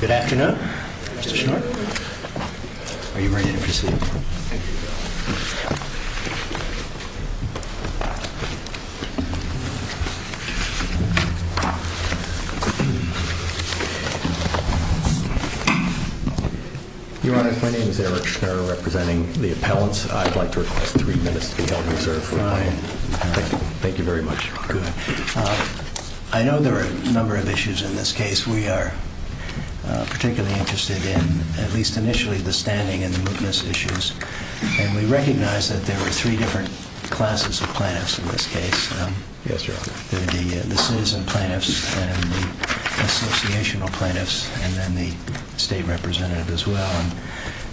Good afternoon, Mr. Chairman, are you ready to proceed? Your Honor, please. I'm Derek Sherwood, representing the appellants, and I'd like to request three minutes to call reserve time. Thank you very much. I know there are a number of issues in this case. We are particularly interested in, at least initially, the standing and the witness issues. We recognize that there are three different classes of plaintiffs in this case. You guys are bringing in the citizen plaintiffs and the associational plaintiffs, and then the state representative as well.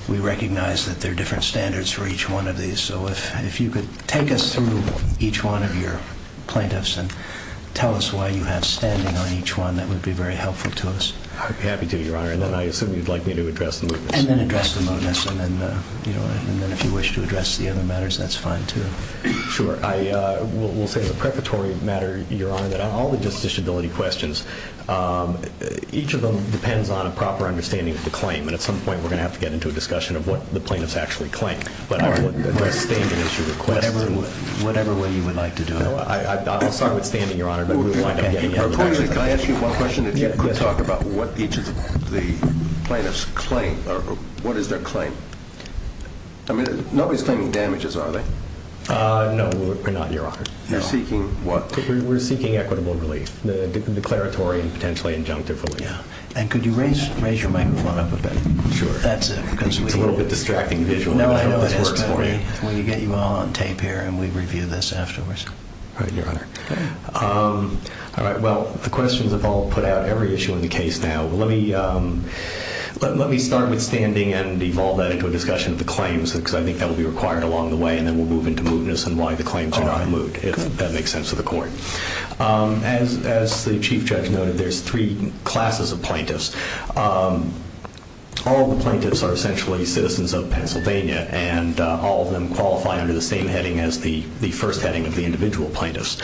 We recognize that there are different standards for each one of these. So if you could take us through each one of your plaintiffs and tell us why you have standing on each one, that would be very helpful to us. I'd be happy to, Your Honor, and then I assume you'd like me to address the witnesses? And then address the motives, and then if you wish to address the other matters, that's fine, too. Sure. We'll say as a preparatory matter, Your Honor, that on all the disability questions, each of them depends on a proper understanding of the claim, and at some point we're going to have to get into a discussion of what the plaintiffs actually claim. But whatever you would like to do. I'll start with standing, Your Honor. Can I ask you one question? Yes. If you could talk about what each of the plaintiffs claim, or what is their claim? I mean, nobody's claiming damages, are they? No, Your Honor. You're seeking what? We're seeking equitable relief, the declaratory and potentially injunctive relief. And could you raise your mic a little bit? Sure. It's a little bit distracting visually. Let me get you all on tape here, and we review this afterwards. All right, Your Honor. All right, well, the questions have all put out every issue in the case now. But let me start with standing and evolve that into a discussion of the claims, because I think that will be required along the way, and then we'll move into mootness and why the claims are not moot, if that makes sense to the Court. And as the Chief Judge noted, there's three classes of plaintiffs. All the plaintiffs are essentially citizens of Pennsylvania, and all of them qualify under the same heading as the first heading of the individual plaintiffs,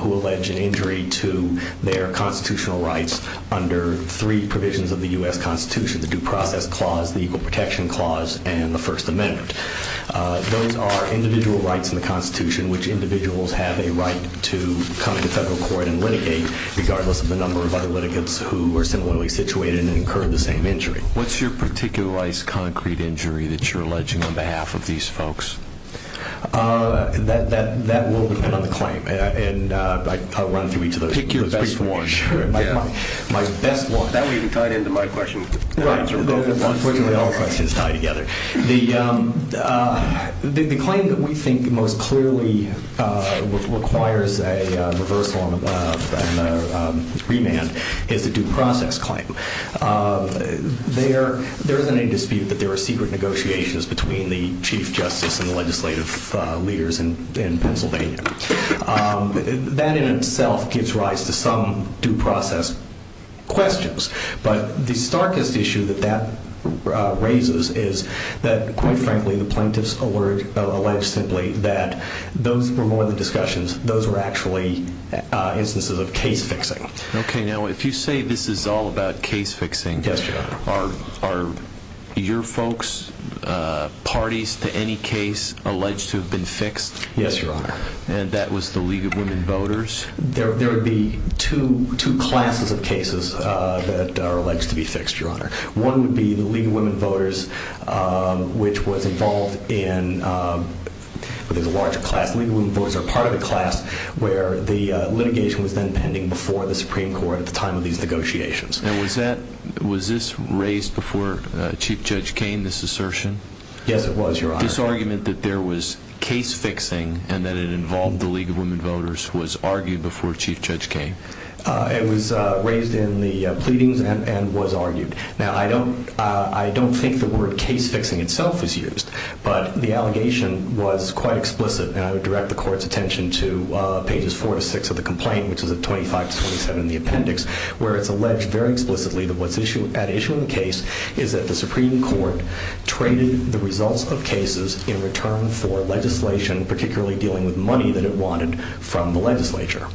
who allege an injury to their constitutional rights under three provisions of the U.S. Constitution, the Due Profit Clause, the Equal Protection Clause, and the First Amendment. Those are individual rights in the Constitution, which individuals have a right to come to federal court and litigate, regardless of the number of other litigants who are similarly situated and incur the same injury. What's your particularized concrete injury that you're alleging on behalf of these folks? That will depend on the claim. And I'll run through each of those. Pick your best one. My best one. That way you can tie into my question. I was hoping that all questions tie together. The claim that we think most clearly requires a reversal and a remand is a due process claim. There is an agency that there are secret negotiations between the Chief Justice and the legislative leaders in Pennsylvania. That in itself gives rise to some due process questions. But the starkest issue that that raises is that, quite frankly, the plaintiffs allege simply that those were more than discussions. Those were actually instances of case fixing. Okay. Now, if you say this is all about case fixing, are your folks, parties to any case, alleged to have been fixed? Yes, Your Honor. And that was the League of Women Voters? There would be two classes of cases that are alleged to be fixed, Your Honor. One would be the League of Women Voters, which was involved in a larger class. League of Women Voters are part of a class where the litigation was then pending before the Supreme Court at the time of these negotiations. And was this raised before Chief Judge Kaine, this assertion? Yes, it was, Your Honor. This argument that there was case fixing and that it involved the League of Women Voters was argued before Chief Judge Kaine? It was raised in the pleadings and was argued. Now, I don't think the word case fixing itself was used, but the allegation was quite explicit, and I would direct the Court's attention to pages 4 to 6 of the complaint, which is at 25 to 27 in the appendix, where it's alleged very explicitly that what's at issue in the case is that the Supreme Court traded the results of cases in return for legislation, particularly dealing with money that it wanted from the legislature.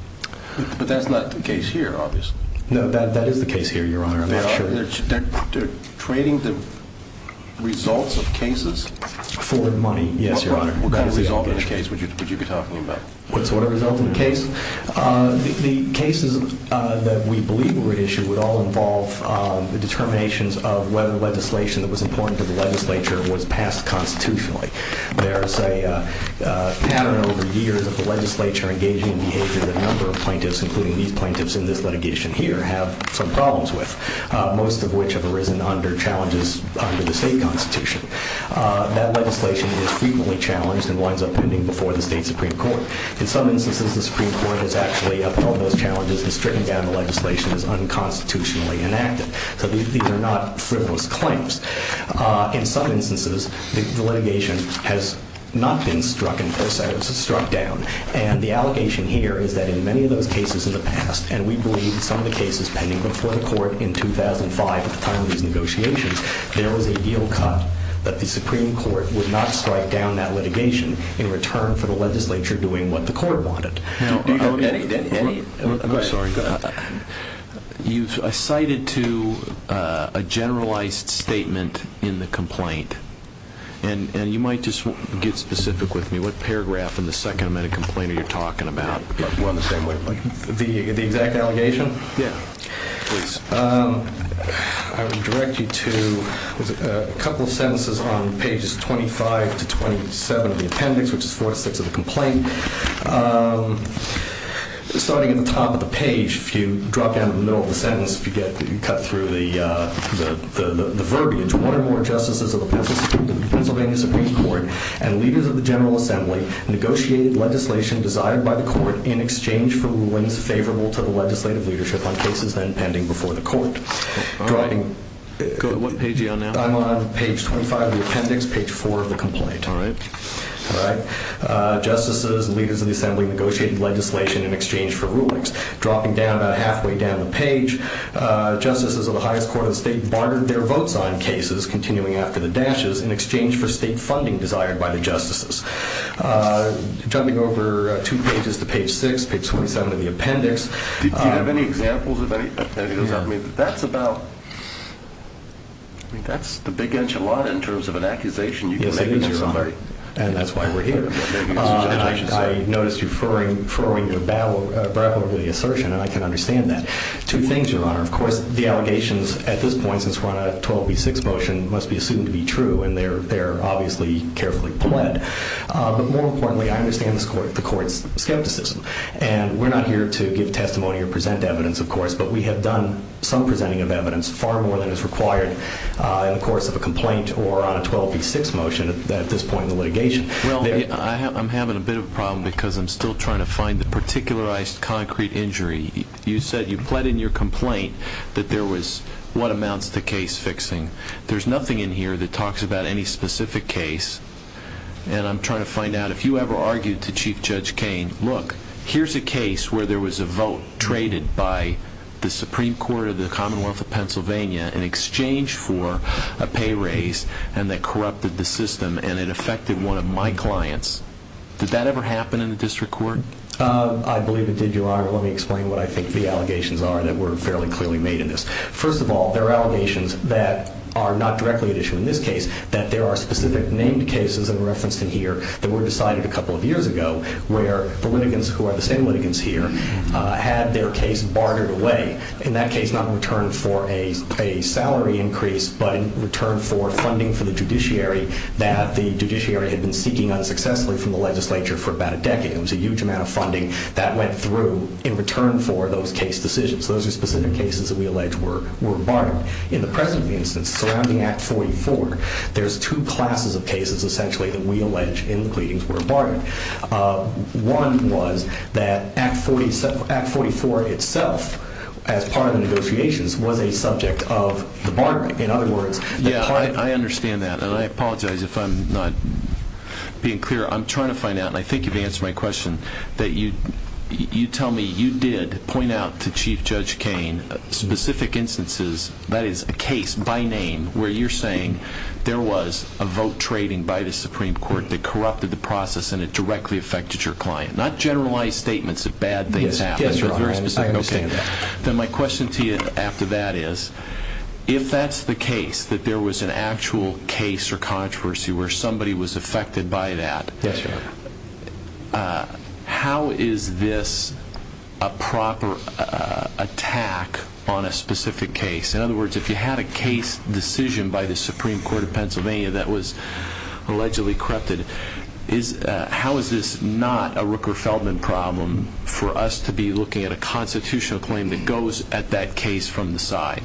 But that's not the case here, obviously. No, that is the case here, Your Honor, I'm not sure. Trading the results of cases? For money, yes, Your Honor. What kind of results in which case? Would you be talking about? What are the results of the case? The cases that we believe were at issue would all involve the determinations of whether legislation that was important to the legislature was passed constitutionally. There's a pattern over the years of the legislature engaging in behavior that a number of plaintiffs, including these plaintiffs in this litigation here, have some problems with, most of which have arisen under challenges under the state constitution. That legislation was frequently challenged and winds up pending before the state Supreme Court. In some instances, the Supreme Court has actually, upon those challenges, has stricken down the legislation as unconstitutionally inactive. So these are not frivolous claims. In some instances, the litigation has not been struck down. And the allegation here is that in many of those cases in the past, and we believe some of the cases pending before the court in 2005 at the time of these negotiations, there was a yield cut, but the Supreme Court would not strike down that litigation in return for the legislature doing what the court wanted. I'm sorry. You cited to a generalized statement in the complaint. And you might just get specific with me. What paragraph in the second amendment of the complaint are you talking about? The exact allegation? Yeah. I would direct you to a couple of sentences on pages 25 to 27 of the appendix, which is four aspects of the complaint. Starting at the top of the page, if you drop down to the middle of the sentence, you get to cut through the verbiage. One or more justices of the Pennsylvania Supreme Court and leaders of the General Assembly negotiated legislation decided by the court in exchange for rulings favorable to the legislative leadership on cases pending before the court. What page are you on now? I'm on page 25 of the appendix, page 4 of the complaint. All right. Justices and leaders of the Assembly negotiated legislation in exchange for rulings. Dropping down about halfway down the page, justices of the highest court of the state bartered their vote signed cases, continuing after the dashes, in exchange for state funding desired by the justices. Jumping over two pages to page 6, page 27 of the appendix. Do you have any examples of any of that? I mean, that's about the big edge of the law in terms of an accusation you can make against somebody. And that's why we're here. I notice you're furrowing your brow with the assertion, and I can understand that. Two things, Your Honor. Of course, the allegations at this point, since we're on a 12 v. 6 motion, must be assumed to be true, and they're obviously carefully pled. But more importantly, I understand the court's skepticism, and we're not here to give testimony or present evidence, of course, but we have done some presenting of evidence, far more than is required in the course of a complaint or on a 12 v. 6 motion at this point in the litigation. I'm having a bit of a problem because I'm still trying to find the particularized concrete injury. You said you pled in your complaint that there was one amount of the case fixing. There's nothing in here that talks about any specific case, and I'm trying to find out if you ever argued to Chief Judge Kain, look, here's a case where there was a vote traded by the Supreme Court of the Commonwealth of Pennsylvania in exchange for a pay raise and that corrupted the system and it affected one of my clients. Did that ever happen in the district court? I believe it did, Your Honor. Let me explain what I think the allegations are that were fairly clearly made in this. First of all, there are allegations that are not directly at issue in this case, that there are specific named cases in reference to here that were decided a couple of years ago where the litigants who are the same litigants here had their case bartered away, in that case not returned for a salary increase but in return for funding for the judiciary that the judiciary had been seeking unsuccessfully from the legislature for about a decade. It was a huge amount of funding that went through in return for those case decisions. Those are specific cases that we allege were bartered. In the present instance, surrounding Act 44, there's two classes of cases, essentially, that we allege in the pleadings were bartered. One was that Act 44 itself, as part of the negotiations, was a subject of the barter. In other words- Yeah, I understand that, and I apologize if I'm not being clear. I'm trying to find out, and I think you've answered my question, that you tell me you did point out to Chief Judge Cain specific instances, that is, a case by name, where you're saying there was a vote trading by the Supreme Court that corrupted the process and it directly affected your client. Not generalized statements of bad things happening. Yes, sir. Then my question to you after that is, if that's the case, that there was an actual case or controversy where somebody was affected by that, how is this a proper attack on a specific case? In other words, if you had a case decision by the Supreme Court of Pennsylvania that was allegedly corrupted, how is this not a Rooker-Feldman problem for us to be looking at a constitutional claim that goes at that case from the side?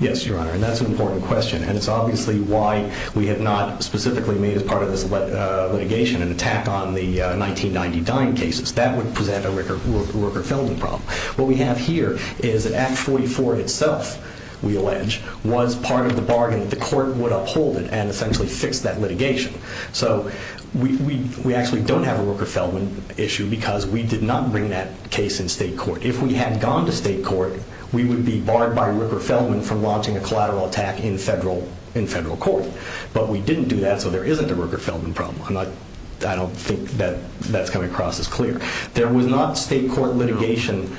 Yes, Your Honor, and that's an important question. And so obviously why we have not specifically made it part of this litigation an attack on the 1999 cases. That would present a Rooker-Feldman problem. What we have here is that Act 44 itself, we allege, was part of the bargain. The court would uphold it and essentially fix that litigation. So we actually don't have a Rooker-Feldman issue because we did not bring that case in state court. If we had gone to state court, we would be barred by Rooker-Feldman from launching a collateral attack in federal court. But we didn't do that, so there isn't a Rooker-Feldman problem. I don't think that that's coming across as clear. There was not state court litigation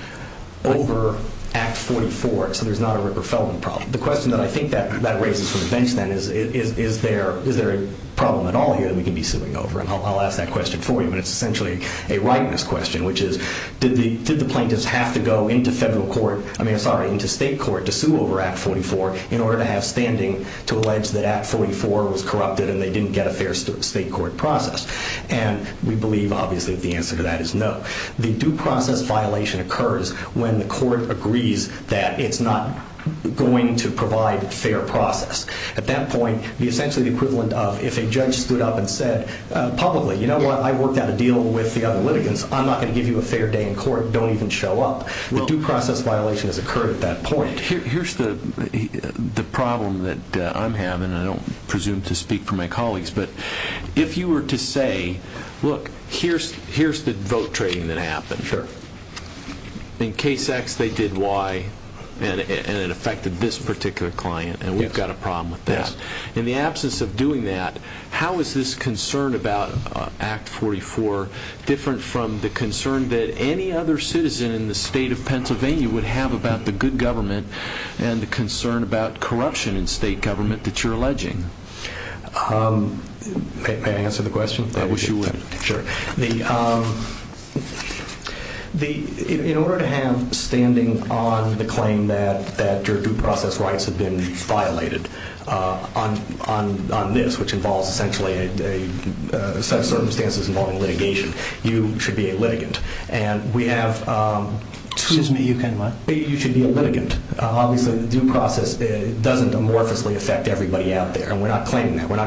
over Act 44, so there's not a Rooker-Feldman problem. The question that I think that raises for the defense men is, is there a problem at all here that we can be suing over? And I'll ask that question for you, but it's essentially a rightness question, which is, did the plaintiffs have to go into state court to sue over Act 44 in order to have standing to allege that Act 44 was corrupted and they didn't get a fair state court process? And we believe, obviously, the answer to that is no. The due process violation occurs when the court agrees that it's not going to provide fair process. At that point, essentially the equivalent of if a judge stood up and said publicly, you know what, I worked out a deal with the other litigants. I'm not going to give you a fair day in court. Don't even show up. The due process violation has occurred at that point. Here's the problem that I'm having, and I don't presume to speak for my colleagues, but if you were to say, look, here's the vote trading that happened. Sure. In case X, they did Y, and it affected this particular client, and we've got a problem with this. In the absence of doing that, how is this concern about Act 44 different from the concern that any other citizen in the state of Pennsylvania would have about the good government and the concern about corruption in state government that you're alleging? May I answer the question? I wish you would. Sure. In order to have standing on the claim that your due process rights have been violated on this, which involves essentially a set of circumstances involving litigation, you should be a litigant. Excuse me, you can what? You should be a litigant. Obviously the due process doesn't amorphously affect everybody out there, and we're not claiming that. What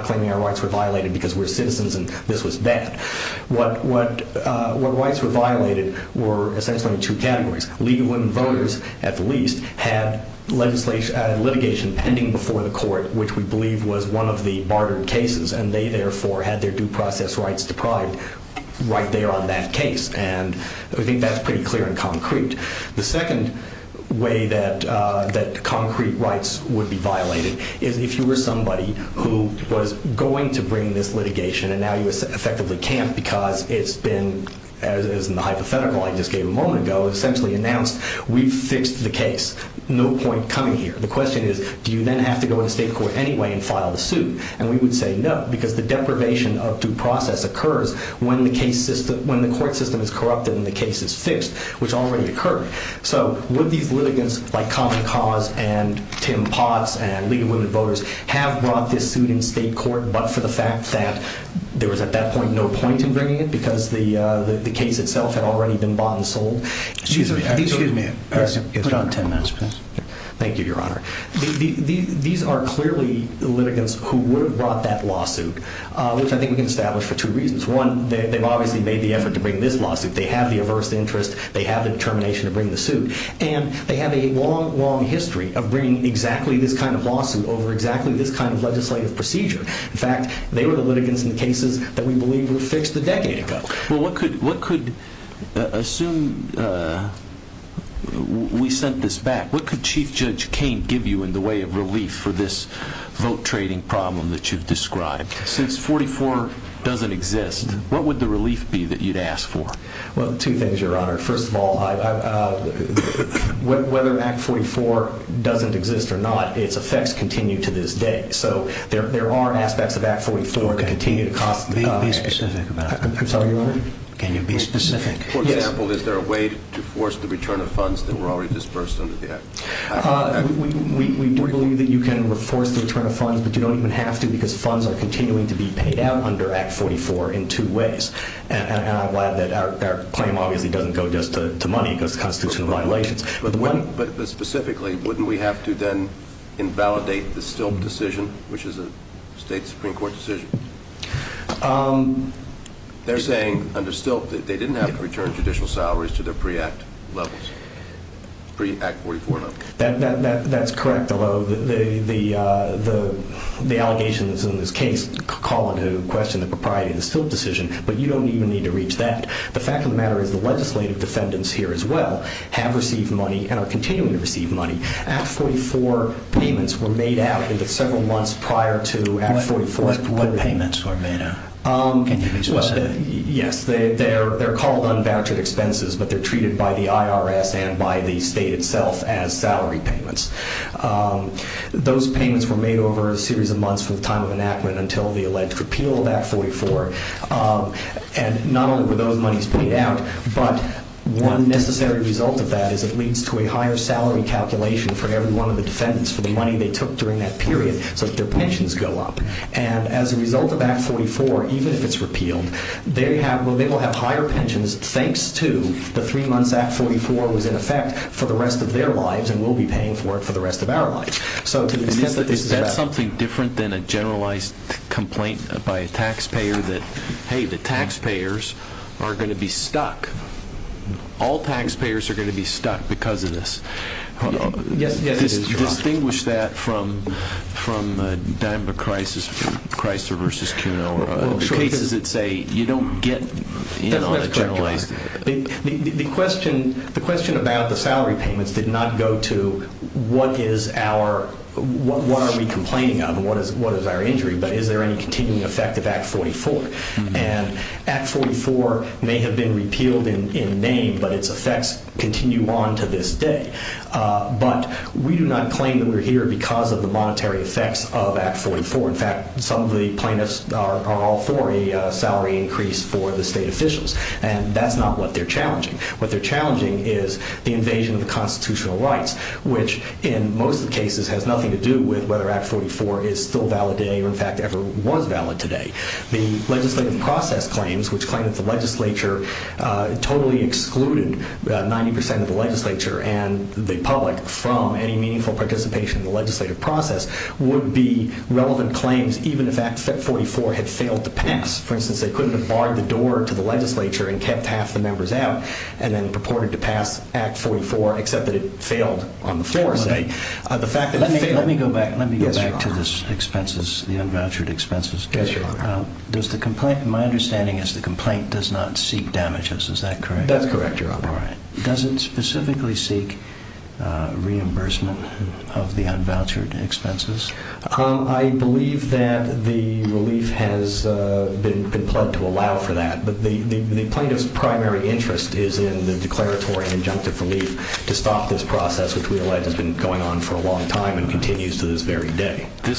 rights were violated were essentially two categories. Legal and voters, at least, had litigation pending before the court, which we believe was one of the bartered cases, and they, therefore, had their due process rights deprived right there on that case, and I think that's pretty clear and concrete. The second way that concrete rights would be violated is if you were somebody who was going to bring this litigation, and now you effectively can't because it's been, as in the hypothetical I just gave a moment ago, essentially announced we've fixed the case. No point coming here. The question is do you then have to go to the state court anyway and file the suit, and we would say no because the deprivation of due process occurs when the court system is corrupted and the case is fixed, which already occurred. So would these litigants, like Common Cause and Tim Potts and legal and voters, have brought this suit in state court but for the fact that there was at that point no point in bringing it because the case itself had already been bought and sold? Excuse me. Excuse me. It's about 10 minutes, please. Thank you, Your Honor. These are clearly litigants who would have brought that lawsuit, which I think we can establish for two reasons. One, they've obviously made the effort to bring this lawsuit. They have the averse interest. They have the determination to bring the suit. And they have a long, long history of bringing exactly this kind of lawsuit over exactly this kind of legislative procedure. In fact, they were the litigants in cases that we believe were fixed a decade ago. Well, what could assume we sent this back, what could Chief Judge Kain give you in the way of relief for this vote trading problem that you've described? Since 44 doesn't exist, what would the relief be that you'd ask for? Well, two things, Your Honor. First of all, whether Act 44 doesn't exist or not, its effects continue to this day. So there are aspects of Act 44 to continue to cost money. Can you be specific about that? Sorry, Your Honor? Can you be specific? For example, is there a way to force the return of funds that were already disbursed under the Act? We believe that you can force the return of funds, but you don't even have to because funds are continuing to be paid out under Act 44 in two ways. And I'm glad that our claim obviously doesn't go just to money because it constitutes a violation. But specifically, wouldn't we have to then invalidate the Stilt decision, which is a state Supreme Court decision? They're saying under Stilt that they didn't have to return judicial salaries to their pre-Act levels, pre-Act 44 levels. That's correct, Your Honor. The allegations in this case call into question the propriety of the Stilt decision, but you don't even need to reach that. The fact of the matter is the legislative defendants here as well have received money and are continuing to receive money. Act 44 payments were made after several months prior to Act 44. What payments were made? Yes, they're called unvouchered expenses, but they're treated by the IRS and by the state itself as salary payments. Those payments were made over a series of months with time of enactment until the alleged repeal of Act 44. And not only were those monies paid out, but one necessary result of that is it leads to a higher salary calculation for every one of the defendants for the money they took during that period so that their pensions go up. And as a result of Act 44, even if it's repealed, they will have higher pensions thanks to the three months Act 44 was in effect for the rest of their lives and will be paying for it for the rest of our lives. Is that something different than a generalized complaint by a taxpayer that, hey, the taxpayers are going to be stuck? All taxpayers are going to be stuck because of this. Yes, it is, John. Distinguish that from a dime of Chrysler v. Kinella. Because it's a, you don't get in on a generalized complaint. The question about the salary payments did not go to what is our, what are we complaining about and what is our injury, but is there any continuing effect of Act 44. And Act 44 may have been repealed in May, but its effects continue on to this day. But we do not claim that we're here because of the monetary effects of Act 44. In fact, some of the plaintiffs are all for a salary increase for the state officials. And that's not what they're challenging. What they're challenging is the invasion of the constitutional rights, which in most cases has nothing to do with whether Act 44 is still valid today or, in fact, ever was valid today. The legislative process claims, which claim that the legislature totally excluded 90 percent of the legislature and the public from any meaningful participation in the legislative process, would be relevant claims even if Act 44 had failed to pass. For instance, they couldn't have barred the door to the legislature and kept half the members out and then purported to pass Act 44 except that it failed on the floor today. Let me go back to the expenses, the unvouchered expenses. Does the complaint, my understanding is the complaint does not seek damages, is that correct? That's correct, Your Honor. Does it specifically seek reimbursement of the unvouchered expenses? I believe that the relief has been plugged to allow for that, but the plaintiff's primary interest is in the declaratory injunctive relief to stop this process, which we realize has been going on for a long time and continues to this very day. I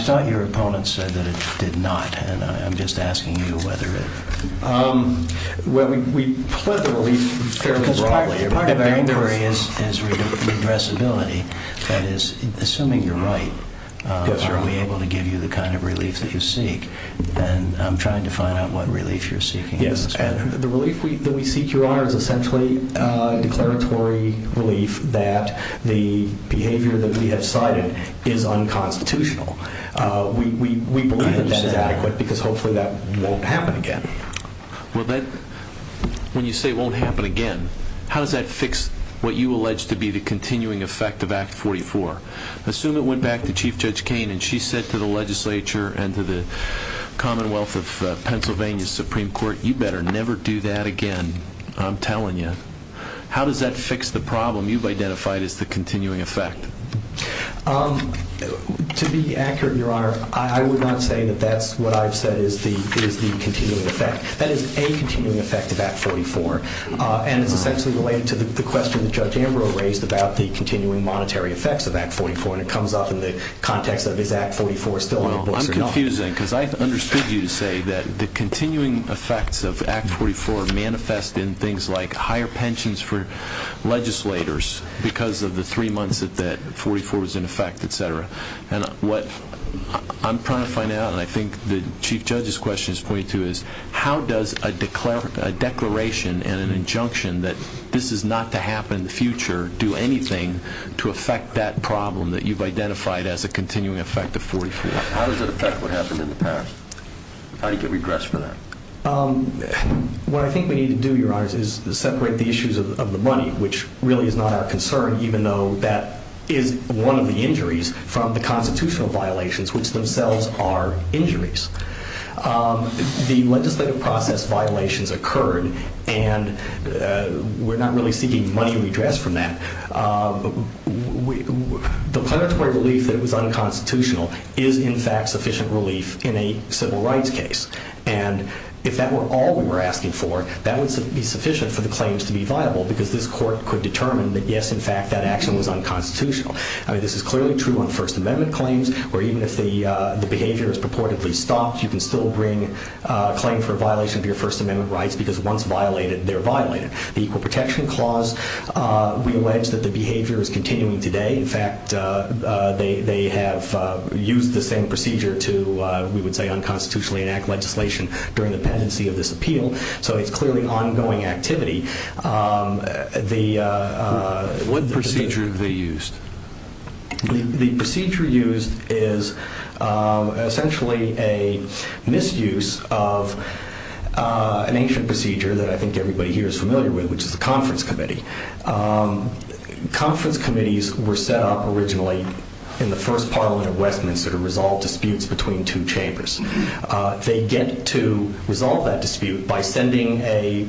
thought your opponent said that it did not, and I'm just asking you whether it… Well, we plug the relief fairly broadly. If my inquiry is regressibility, that is, assuming you're right, are we able to give you the kind of relief that you seek, then I'm trying to find out what relief you're seeking. Yes, the relief that we seek, Your Honor, is essentially declaratory relief that the behavior that we have cited is unconstitutional. We believe that that's adequate because hopefully that won't happen again. Well, then, when you say it won't happen again, how does that fix what you allege to be the continuing effect of Act 44? Assume it went back to Chief Judge Kaine and she said to the legislature and to the Commonwealth of Pennsylvania Supreme Court, you better never do that again, I'm telling you. How does that fix the problem you've identified as the continuing effect? To be accurate, Your Honor, I would not say that that's what I've said is the continuing effect. That is a continuing effect of Act 44, and that's related to the question that Judge Amber raised about the continuing monetary effects of Act 44, and it comes up in the context of is Act 44 still in place or not. I'm confused then because I understood you to say that the continuing effects of Act 44 manifest in things like higher pensions for legislators and what I'm trying to find out, and I think the Chief Judge's question is going to, is how does a declaration and an injunction that this is not to happen in the future do anything to affect that problem that you've identified as a continuing effect of 43? How does it affect what happened in the past? How do you get regress for that? What I think we need to do, Your Honor, is separate the issues of the money, which really is not our concern, even though that is one of the injuries from the constitutional violations, which themselves are injuries. The legislative process violations occurred, and we're not really seeking money regress from that. The particular relief that was unconstitutional is, in fact, sufficient relief in a civil rights case, and if that were all we were asking for, that would be sufficient for the claims to be viable because this court could determine that, yes, in fact, that action was unconstitutional. I mean, this is clearly true on First Amendment claims where even if the behavior is purportedly stopped, you can still bring a claim for violation of your First Amendment rights because once violated, they're violated. The Equal Protection Clause, we allege that the behavior is continuing today. In fact, they have used the same procedure to, we would say, unconstitutionally enact legislation during the pendency of this appeal, so it's clearly ongoing activity. What procedure have they used? The procedure used is essentially a misuse of an ancient procedure that I think everybody here is familiar with, which is the conference committee. Conference committees were set up originally in the first parliament of Westminster to resolve disputes between two chambers. They get to resolve that dispute by sending a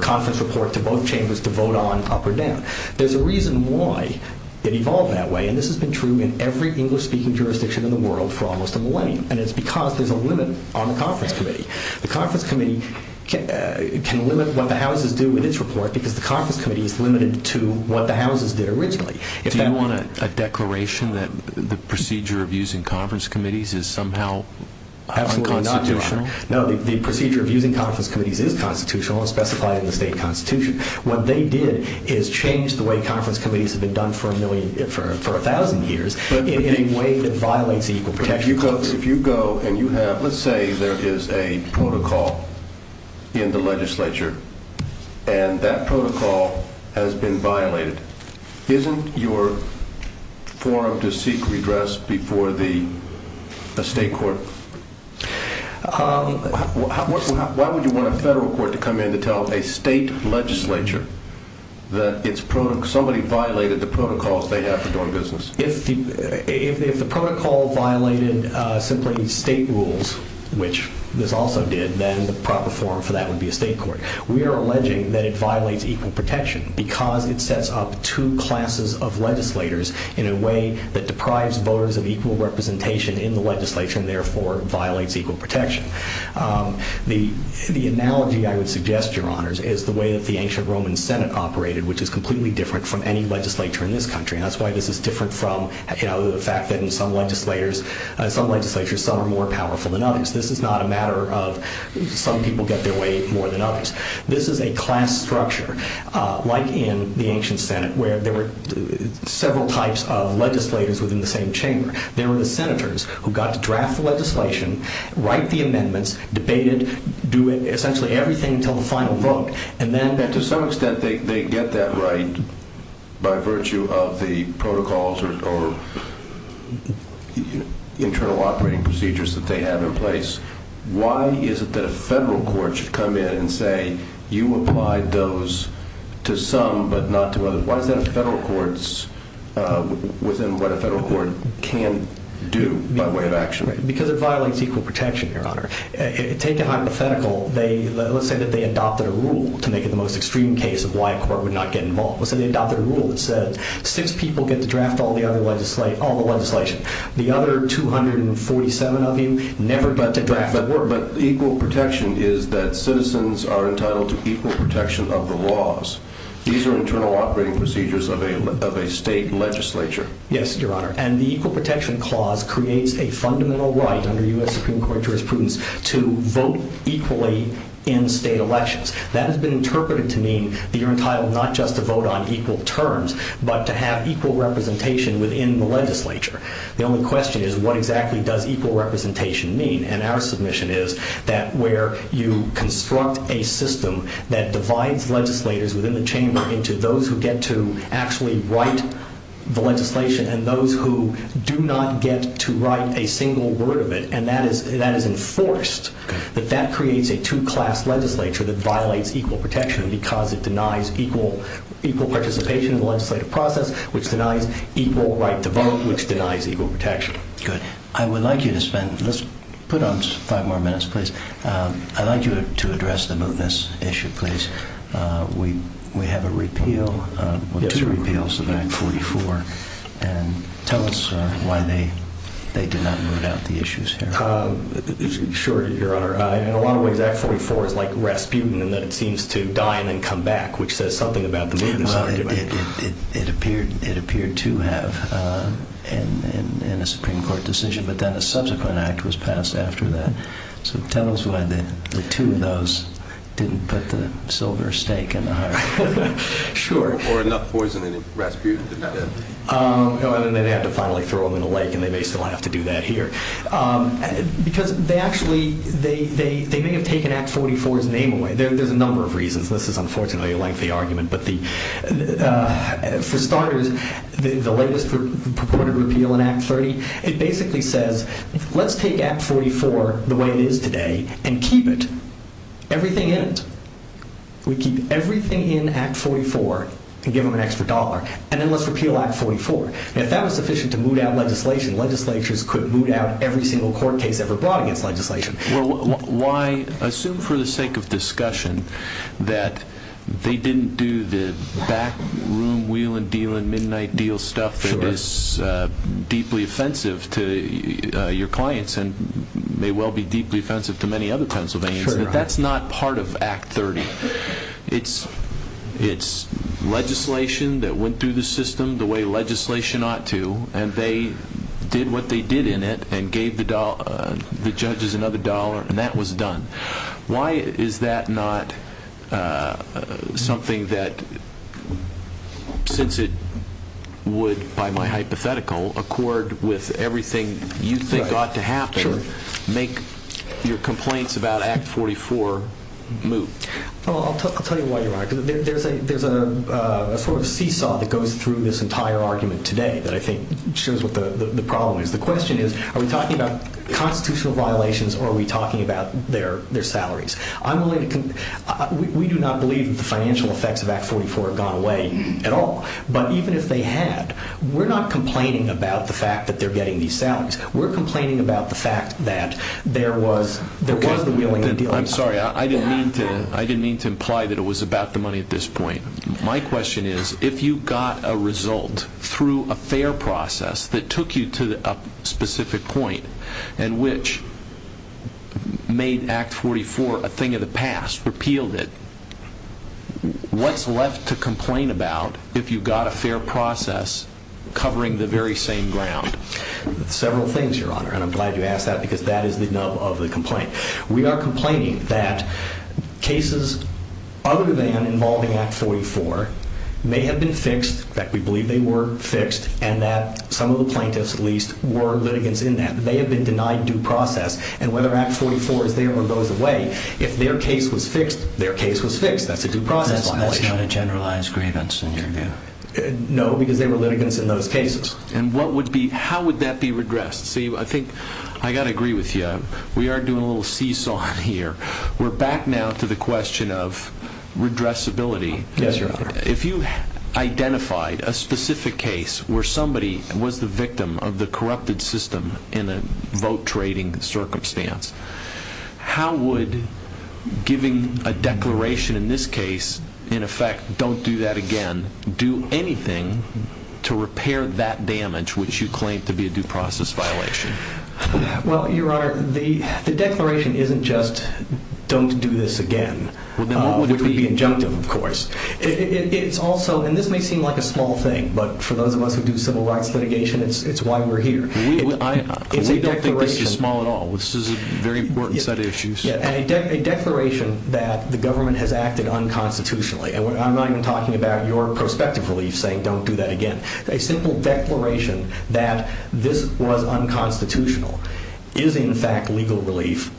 conference report to both chambers to vote on up or down. There's a reason why it evolved that way, and this has been true in every English-speaking jurisdiction in the world for almost a millennium, and it's because there's a limit on the conference committee. The conference committee can limit what the houses do in its report because the conference committee is limited to what the houses did originally. Do you want a declaration that the procedure of using conference committees is somehow unconstitutional? No, the procedure of using conference committees is constitutional and specified in the state constitution. What they did is change the way conference committees have been done for a thousand years in a way that violates the Equal Protection Clause. If you go and you have, let's say there is a protocol in the legislature, and that protocol has been violated, isn't your forum to seek redress before a state court? Why would you want a federal court to come in to tell a state legislature that somebody violated the protocols they have for doing business? If the protocol violated simply state rules, which this also did, then the proper forum for that would be a state court. We are alleging that it violates equal protection because it sets up two classes of legislators in a way that deprives voters of equal representation in the legislature, and therefore violates equal protection. The analogy I would suggest, Your Honors, is the way that the ancient Roman Senate operated, which is completely different from any legislature in this country, and that's why this is different from the fact that in some legislatures some are more powerful than others. This is not a matter of some people get their way more than others. This is a class structure, like in the ancient Senate, where there were several types of legislators within the same chamber. They were the senators who got to draft the legislation, write the amendments, debate it, do essentially everything until the final vote, and then to some extent they get that right by virtue of the protocols or internal operating procedures that they had in place. Why is it that a federal court should come in and say, you applied those to some but not to others? What are the federal courts within what a federal court can do by way of action? Because it violates equal protection, Your Honor. Take the hypothetical. Let's say that they adopted a rule to make it the most extreme case of why a court would not get involved. Let's say they adopted a rule that said six people get to draft all the other legislation. The other 247 of you never got to draft that rule. But equal protection is that citizens are entitled to equal protection of the laws. These are internal operating procedures of a state legislature. Yes, Your Honor, and the Equal Protection Clause creates a fundamental right under U.S. Supreme Court jurisprudence to vote equally in state elections. That has been interpreted to mean that you're entitled not just to vote on equal terms, but to have equal representation within the legislature. The only question is, what exactly does equal representation mean? And our submission is that where you construct a system that divides legislators within the chamber into those who get to actually write the legislation and those who do not get to write a single word of it, and that is enforced, that that creates a two-class legislature that violates equal protection because it denies equal participation in the legislative process, which denies equal right to vote, which denies equal protection. I would like you to spend, let's put on five more minutes, please. I'd like you to address the mootness issue, please. We have a repeal, two repeals of Act 44, and tell us why they did not vote out the issues here. Sure, Your Honor. In a lot of ways, Act 44 is like Rasputin in that it seems to die and then come back, which says something about the mootness argument. It appeared to have in the Supreme Court decision, but then a subsequent act was passed after that. So tell us why the two of those didn't put the silver stake in the heart. Sure. Or enough poison in Rasputin's defense. No, and then they had to finally throw him in the lake, and then they still have to do that here. Because they actually, they may have taken Act 44's name away. There's a number of reasons. This is unfortunately a lengthy argument, but for starters, the latest purported repeal in Act 30, it basically says, let's take Act 44 the way it is today and keep it. Everything in it. We keep everything in Act 44 and give them an extra dollar, and then let's repeal Act 44. Now, if that was sufficient to moot out legislation, legislatures could moot out every single court case ever brought against legislation. Well, why, assume for the sake of discussion that they didn't do the back room wheelin' dealin' midnight deal stuff that is deeply offensive to your clients and may well be deeply offensive to many other Pennsylvanians. Sure. But that's not part of Act 30. It's legislation that went through the system the way legislation ought to, and they did what they did in it and gave the judges another dollar, and that was done. Why is that not something that, since it would, by my hypothetical, accord with everything you think ought to happen, make your complaints about Act 44 moot? Well, I'll tell you why you might. There's a sort of seesaw that goes through this entire argument today that I think shows what the problem is. The question is, are we talking about constitutional violations or are we talking about their salaries? We do not believe that the financial effects of Act 44 have gone away at all, but even if they had, we're not complaining about the fact that they're getting these salaries. We're complaining about the fact that there was a wheelin' deal. I'm sorry. I didn't mean to imply that it was about the money at this point. My question is, if you got a result through a fair process that took you to a specific point and which made Act 44 a thing of the past, repealed it, what's left to complain about if you got a fair process covering the very same ground? Several things, Your Honor, and I'm glad you asked that because that is the nub of the complaint. We are complaining that cases other than involving Act 44 may have been fixed, that we believe they were fixed, and that some of the plaintiffs, at least, were litigants in that. They have been denied due process, and whether Act 44 is there or goes away, if their case was fixed, their case was fixed. That's a due process. That's not a generalized grievance in your view. No, because they were litigants in those cases. And how would that be regressed? See, I think I've got to agree with you. We are doing a little seesaw here. We're back now to the question of redressability. Yes, Your Honor. If you identified a specific case where somebody was the victim of the corrupted system in a vote-trading circumstance, how would giving a declaration in this case, in effect, don't do that again, do anything to repair that damage, which you claim to be a due process violation? Well, Your Honor, the declaration isn't just, don't do this again, which would be injunctive, of course. It's also, and this may seem like a small thing, but for those of us who do civil rights litigation, it's why we're here. We don't think this is small at all. This is a very important set of issues. A declaration that the government has acted unconstitutionally, and I'm not even talking about your prospective relief saying don't do that again. A simple declaration that this was unconstitutional is, in fact, legal relief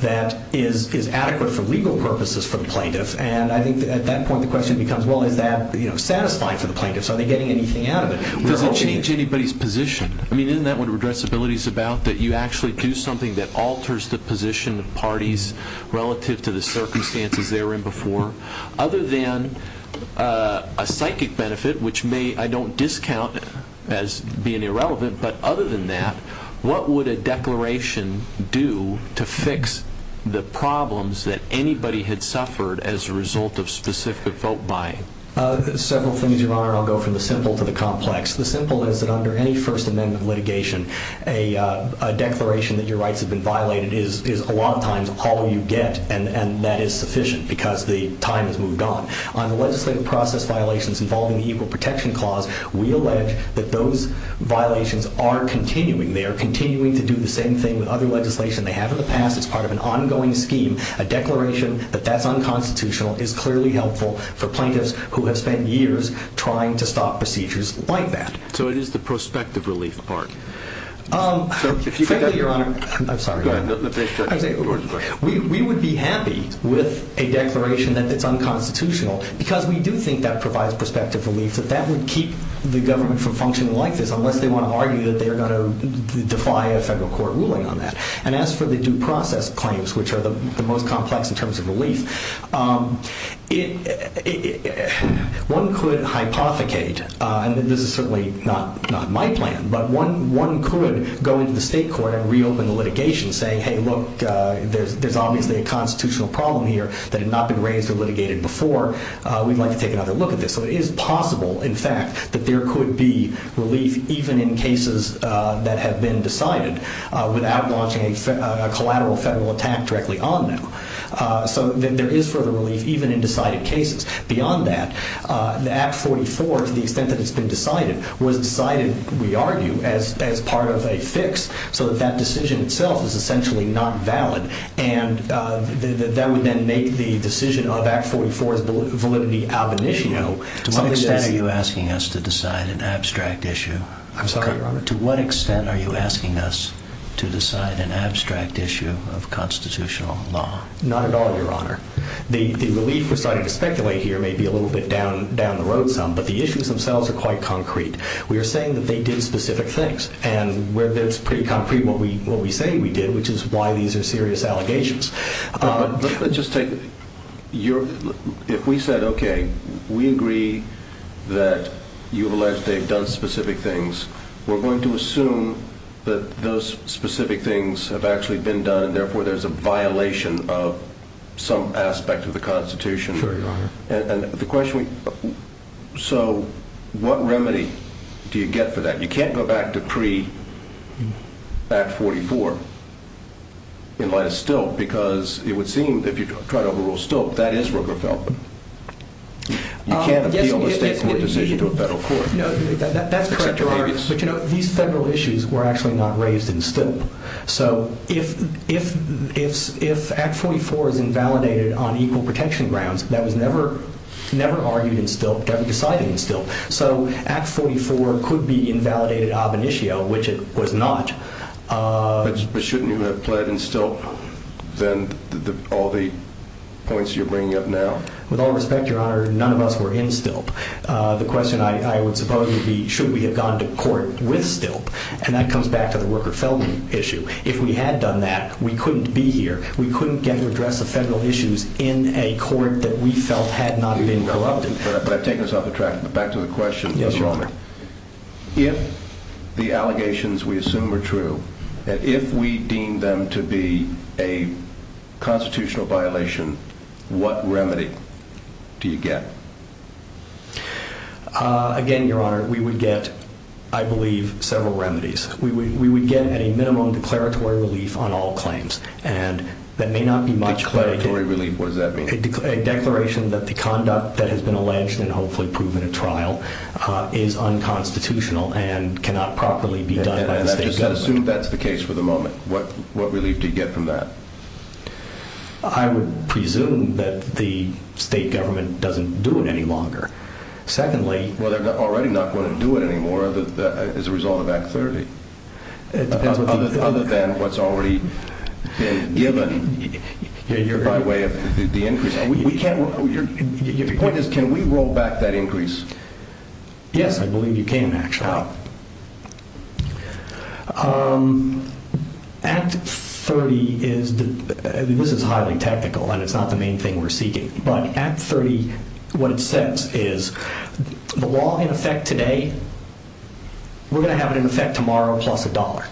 that is adequate for legal purposes for the plaintiff. And I think at that point the question becomes, well, is that satisfying for the plaintiff? Are they getting anything out of it? It doesn't change anybody's position. I mean, isn't that what redressability is about, that you actually do something that alters the position of parties relative to the circumstances they were in before? Other than a psychic benefit, which I don't discount as being irrelevant, but other than that, what would a declaration do to fix the problems that anybody had suffered as a result of specific vote buying? Several things, Your Honor. I'll go from the simple to the complex. The simple is that under any First Amendment litigation, a declaration that your rights have been violated is a lot of times all you get, and that is sufficient because the time has moved on. On legislative process violations involving the Equal Protection Clause, we allege that those violations are continuing. They are continuing to do the same thing with other legislation they have in the past as part of an ongoing scheme. A declaration that that's unconstitutional is clearly helpful for plaintiffs who have spent years trying to stop procedures like that. So it is the prospective relief part. If you could, Your Honor. I'm sorry. Go ahead. We would be happy with a declaration that it's unconstitutional because we do think that provides prospective relief, but that would keep the government from functioning like this unless they want to argue that they're going to defy a federal court ruling on that. And as for the due process claims, which are the most complex in terms of relief, one could hypothecate, and this is certainly not my plan, but one could go to the state court and reopen litigation and say, hey, look, there's obviously a constitutional problem here that has not been raised or litigated before. We'd like to take another look at this. So it is possible, in fact, that there could be relief even in cases that have been decided without launching a collateral federal attack directly on them. So there is further relief even in decided cases. Beyond that, the Act 44, to the extent that it's been decided, was decided, we argue, as part of a fix so that that decision itself is essentially not valid. And that would then make the decision on Act 44's validity ab initio. To what extent are you asking us to decide an abstract issue? I'm sorry, Your Honor? To what extent are you asking us to decide an abstract issue of constitutional law? Not at all, Your Honor. The relief we're starting to speculate here may be a little bit down the road some, but the issues themselves are quite concrete. We are saying that they did specific things. And we're pretty concrete in what we say we did, which is why these are serious allegations. If we said, okay, we agree that you've alleged they've done specific things, we're going to assume that those specific things have actually been done, therefore there's a violation of some aspect of the Constitution. Sure, Your Honor. So what remedy do you get for that? You can't go back to pre-Act 44 unless still, because it would seem that if you try to rule still, that is Rockefeller. You can't appeal a state court decision to a federal court. That's correct, Your Honor. But, you know, these federal issues were actually not raised in still. So if Act 44 is invalidated on equal protection grounds, that was never argued in still. That was decided in still. So Act 44 could be invalidated ob initio, which it was not. But shouldn't you have fled in still, then, all the points you're bringing up now? With all respect, Your Honor, none of us were in still. The question I would suppose would be, should we have gone to court with still? And that comes back to the Rockefeller issue. If we had done that, we couldn't be here. We couldn't get to address the federal issues in a court that we felt had not been relevant. But I've taken us off the track. Back to the question, Your Honor. If the allegations we assume are true, and if we deem them to be a constitutional violation, what remedy do you get? Again, Your Honor, we would get, I believe, several remedies. We would get a minimum declaratory relief on all claims. And that may not be much clarity. Declaratory relief, what does that mean? A declaration that the conduct that has been alleged, and hopefully proven at trial, is unconstitutional and cannot properly be done by the state government. And just assume that's the case for the moment. What relief do you get from that? I would presume that the state government doesn't do it any longer. Secondly... Well, they're already not going to do it anymore as a result of that clarity. Other than what's already been given by way of the increase. Your point is, can we roll back that increase? Yes, I believe you can, actually. Act 30 is, and this is highly technical, and it's not the main thing we're seeking, but Act 30, what it says is, the law in effect today, we're going to have it in effect tomorrow, plus a dollar.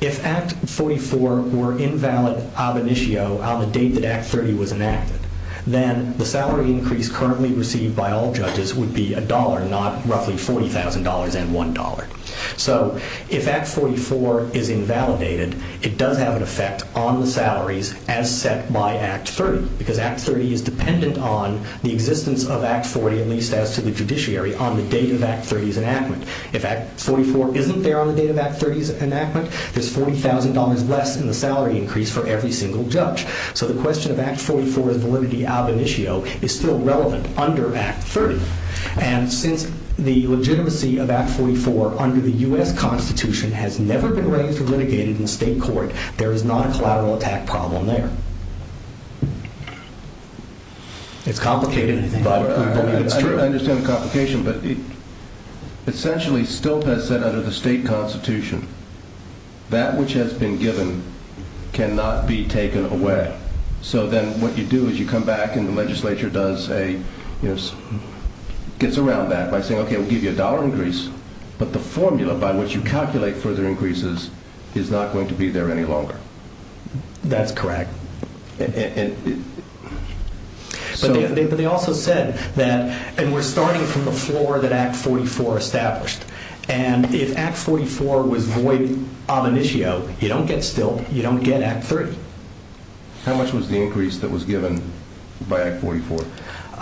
If Act 44 were invalid ab initio, on the date that Act 30 was enacted, then the salary increase currently received by all judges would be a dollar, not roughly $40,000 and $1. So, if Act 44 is invalidated, it does have an effect on the salaries as set by Act 30, because Act 30 is dependent on the existence of Act 40 on the date of Act 30's enactment. If Act 44 isn't there on the date of Act 30's enactment, there's $40,000 less in the salary increase for every single judge. So the question of Act 44's validity ab initio is still relevant under Act 30. And since the legitimacy of Act 44 under the U.S. Constitution has never been raised or litigated in state court, there is not a collateral attack problem there. It's complicated. I understand the complication, but essentially, Stiltz has said under the state constitution, that which has been given cannot be taken away. So then what you do is you come back and the legislature does a, gets around that by saying, okay, we'll give you a dollar increase, but the formula by which you calculate further increases is not going to be there any longer. That's correct. But they also said that, and we're starting from the floor that Act 44 established. And if Act 44 was void ab initio, you don't get Stiltz, you don't get Act 30. How much was the increase that was given by Act 44?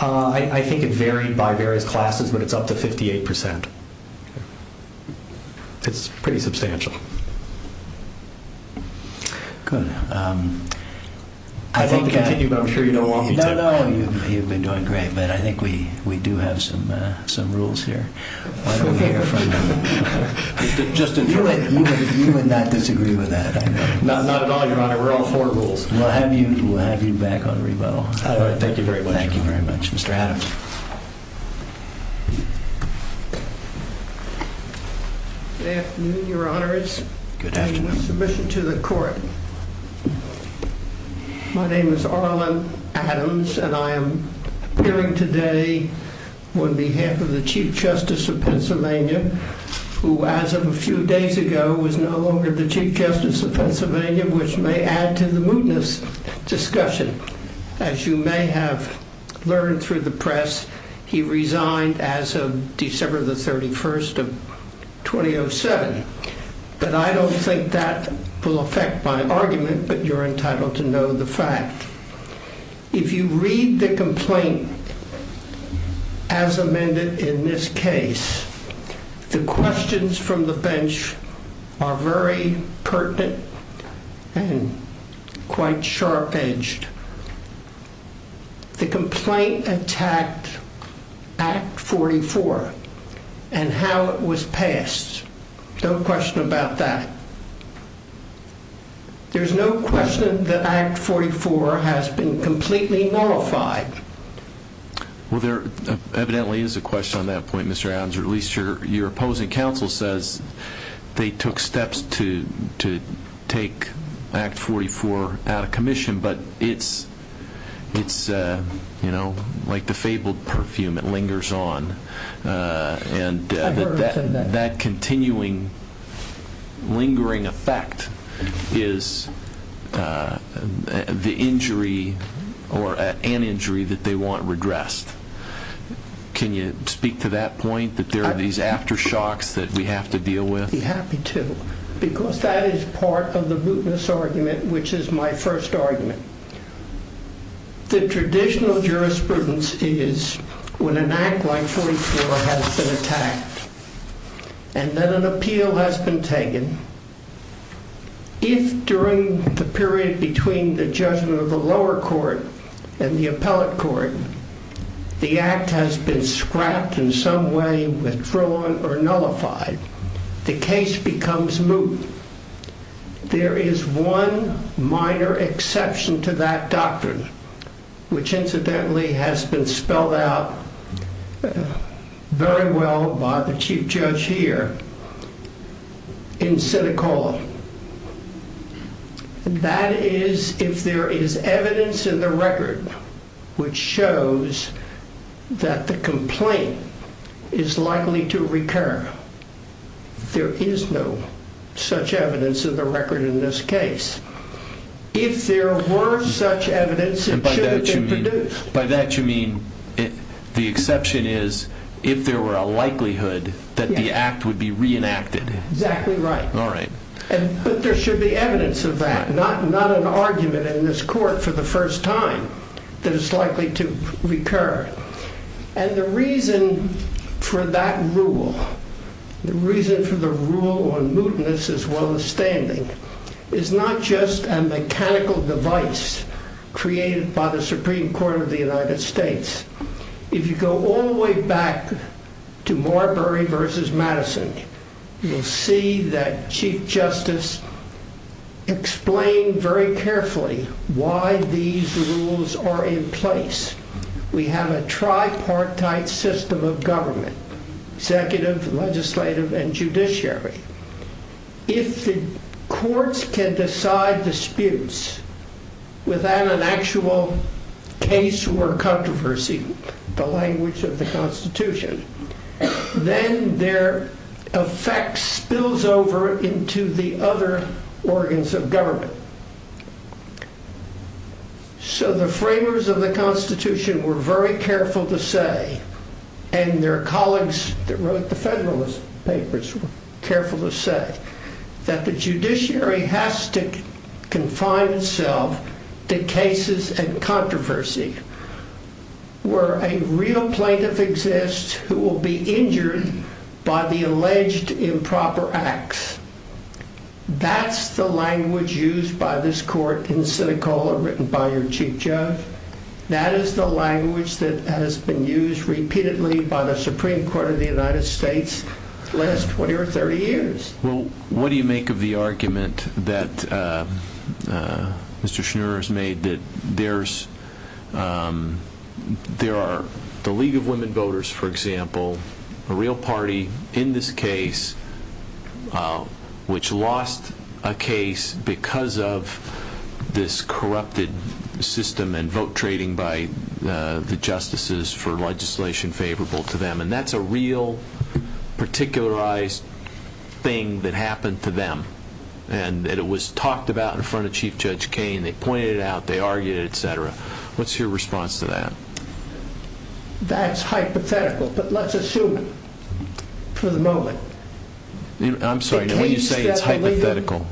I think it varied by various classes, but it's up to 58%. It's pretty substantial. Good. I'm sure you don't want me to. No, no, you've been doing great. But I think we do have some rules here. Just a few minutes. You would not disagree with that. Not at all, Your Honor. We're on four rules. We'll have you back on rebuttal. All right, thank you very much. Thank you very much, Mr. Adams. Good afternoon, Your Honors. I have a submission to the court. My name is Orla Adams, and I am appearing today on behalf of the Chief Justice of Pennsylvania, who, as of a few days ago, was no longer the Chief Justice of Pennsylvania, which may add to the mootness discussion. As you may have learned through the press, he resigned as of December the 31st of 2007. But I don't think that will affect my argument, but you're entitled to know the fact. If you read the complaint as amended in this case, the questions from the bench are very pertinent and quite sharp-edged. The complaint attacked Act 44 and how it was passed. No question about that. There's no question that Act 44 has been completely modified. Well, there evidently is a question on that point, Mr. Adams, or at least your opposing counsel says they took steps to take Act 44 out of commission, but it's, you know, like the fabled perfume, it lingers on. And that continuing lingering effect is the injury or an injury that they want regressed. Can you speak to that point, that there are these aftershocks that we have to deal with? I'd be happy to, because that is part of the mootness argument, which is my first argument. The traditional jurisprudence is when an act like 44 has been attacked and that an appeal has been taken, if during the period between the judgment of the lower court and the appellate court, the act has been scrapped in some way, withdrawn, or nullified, the case becomes moot. There is one minor exception to that doctrine, which incidentally has been spelled out very well by the chief judge here in Seneca Hall. That is, if there is evidence in the record which shows that the complaint is likely to recur, there is no such evidence in the record in this case. If there were such evidence, it should have been produced. By that you mean the exception is if there were a likelihood that the act would be reenacted. Exactly right. All right. But there should be evidence of that, not an argument in this court for the first time that it's likely to recur. And the reason for that rule, the reason for the rule on mootness as well as standing, is not just a mechanical device created by the Supreme Court of the United States. If you go all the way back to Marbury v. Madison, you'll see that Chief Justice explained very carefully why these rules are in place. We have a tripartite system of government, executive, legislative, and judiciary. If the courts can decide disputes without an actual case or controversy, the language of the Constitution, then their effect spills over into the other organs of government. So the framers of the Constitution were very careful to say, and their colleagues that wrote the Federalist Papers were careful to say, that the judiciary has to confine itself to cases and controversy where a real plaintiff exists who will be injured by the alleged improper acts. That's the language used by this court in Seneca or written by your Chief Judge. That is the language that has been used repeatedly by the Supreme Court of the United States for the last 20 or 30 years. Well, what do you make of the argument that Mr. Schneer has made that there are the League of Women Voters, for example, a real party in this case, which lost a case because of this corrupted system and vote trading by the justices for legislation favorable to them. And that's a real, particularized thing that happened to them. And it was talked about in front of Chief Judge Kaine. They pointed it out. They argued it, et cetera. What's your response to that? That's hypothetical, but let's assume for the moment I'm sorry, when you say it's hypothetical,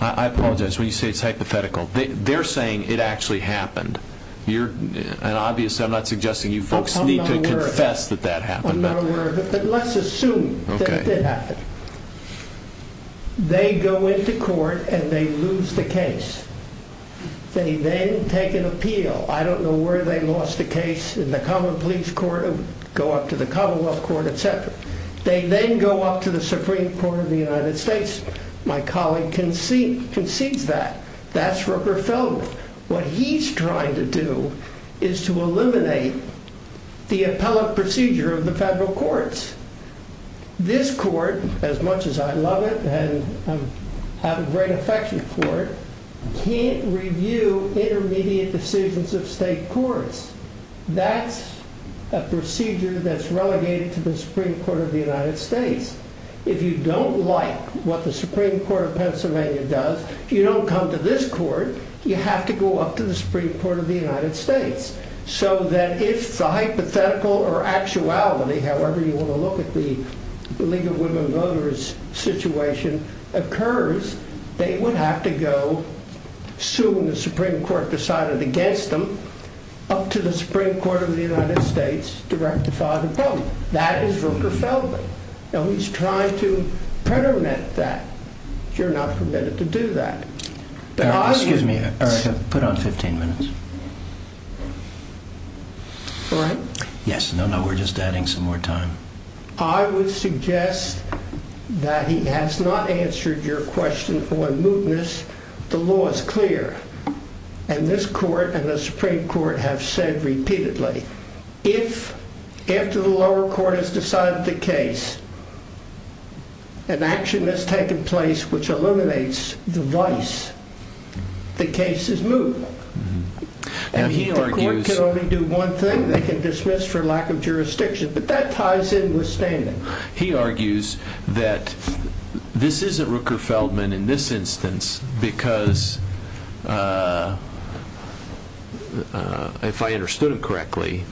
I apologize, when you say it's hypothetical, they're saying it actually happened. And obviously, I'm not suggesting you folks need to confess that that happened. I'm not aware of it, but let's assume that it happened. They go into court and they lose the case. They then take an appeal. I don't know where they lost the case, in the Commonwealth Police Court or go up to the Commonwealth Court, et cetera. They then go up to the Supreme Court of the United States. My colleague can see that. That's what we're filled with. What he's trying to do is to eliminate the appellate procedure of the federal courts. This court, as much as I love it, and I'm very affectionate for it, can't review intermediate decisions of state courts. That's a procedure that's relegated to the Supreme Court of the United States. If you don't like what the Supreme Court of Pennsylvania does, if you don't come to this court, you have to go up to the Supreme Court of the United States. So that if the hypothetical or actuality, however you want to look at the League of Women Voters situation, occurs, they would have to go, assuming the Supreme Court decided against them, up to the Supreme Court of the United States to rectify the problem. That is what we're filled with. And he's trying to permeate that. You're not permitted to do that. Excuse me. Put on 15 minutes. All right. Yes, no, no, we're just adding some more time. I would suggest that he has not answered your question on mootness. The law is clear. And this court and the Supreme Court have said repeatedly, if, after the lower court has decided the case, an action has taken place which eliminates the vice, the case is moot. And the lower court can only do one thing. They can dismiss for lack of jurisdiction. But that ties in with standing. He argues that this isn't Rooker-Feldman in this instance because, if I understood it correctly,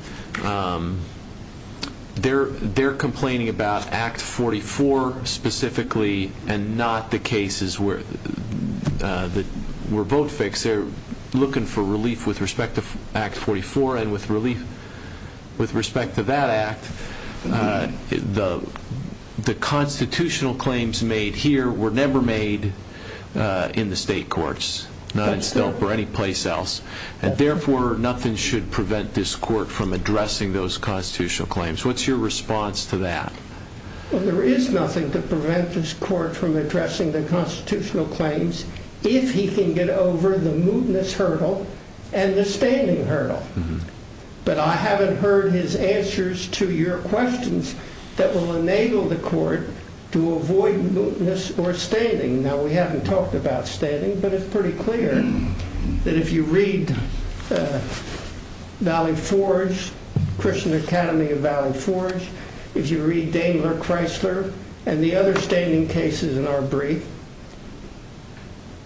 they're complaining about Act 44 specifically and not the cases that were vote fixed. They're looking for relief with respect to Act 44 and with respect to that act. The constitutional claims made here were never made in the state courts, not in Stoke or any place else. And, therefore, nothing should prevent this court from addressing those constitutional claims. What's your response to that? Well, there is nothing to prevent this court from addressing the constitutional claims if he can get over the mootness hurdle and the standing hurdle. But I haven't heard his answers to your questions that will enable the court to avoid mootness or standing. Now, we haven't talked about standing, but it's pretty clear that if you read Valley Forge, Christian Academy of Valley Forge, if you read Daimler-Chrysler and the other standing cases in our brief,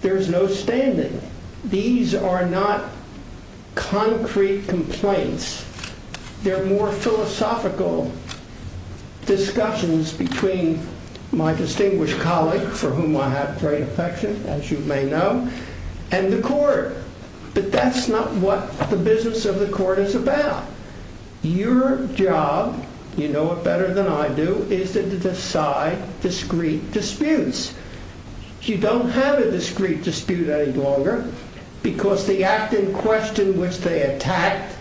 there's no standing. These are not concrete complaints. They're more philosophical discussions between my distinguished colleague, for whom I have great affection, as you may know, and the court. But that's not what the business of the court is about. Your job, you know it better than I do, is to decide discrete disputes. You don't have a discrete dispute any longer because the act in question which they attack,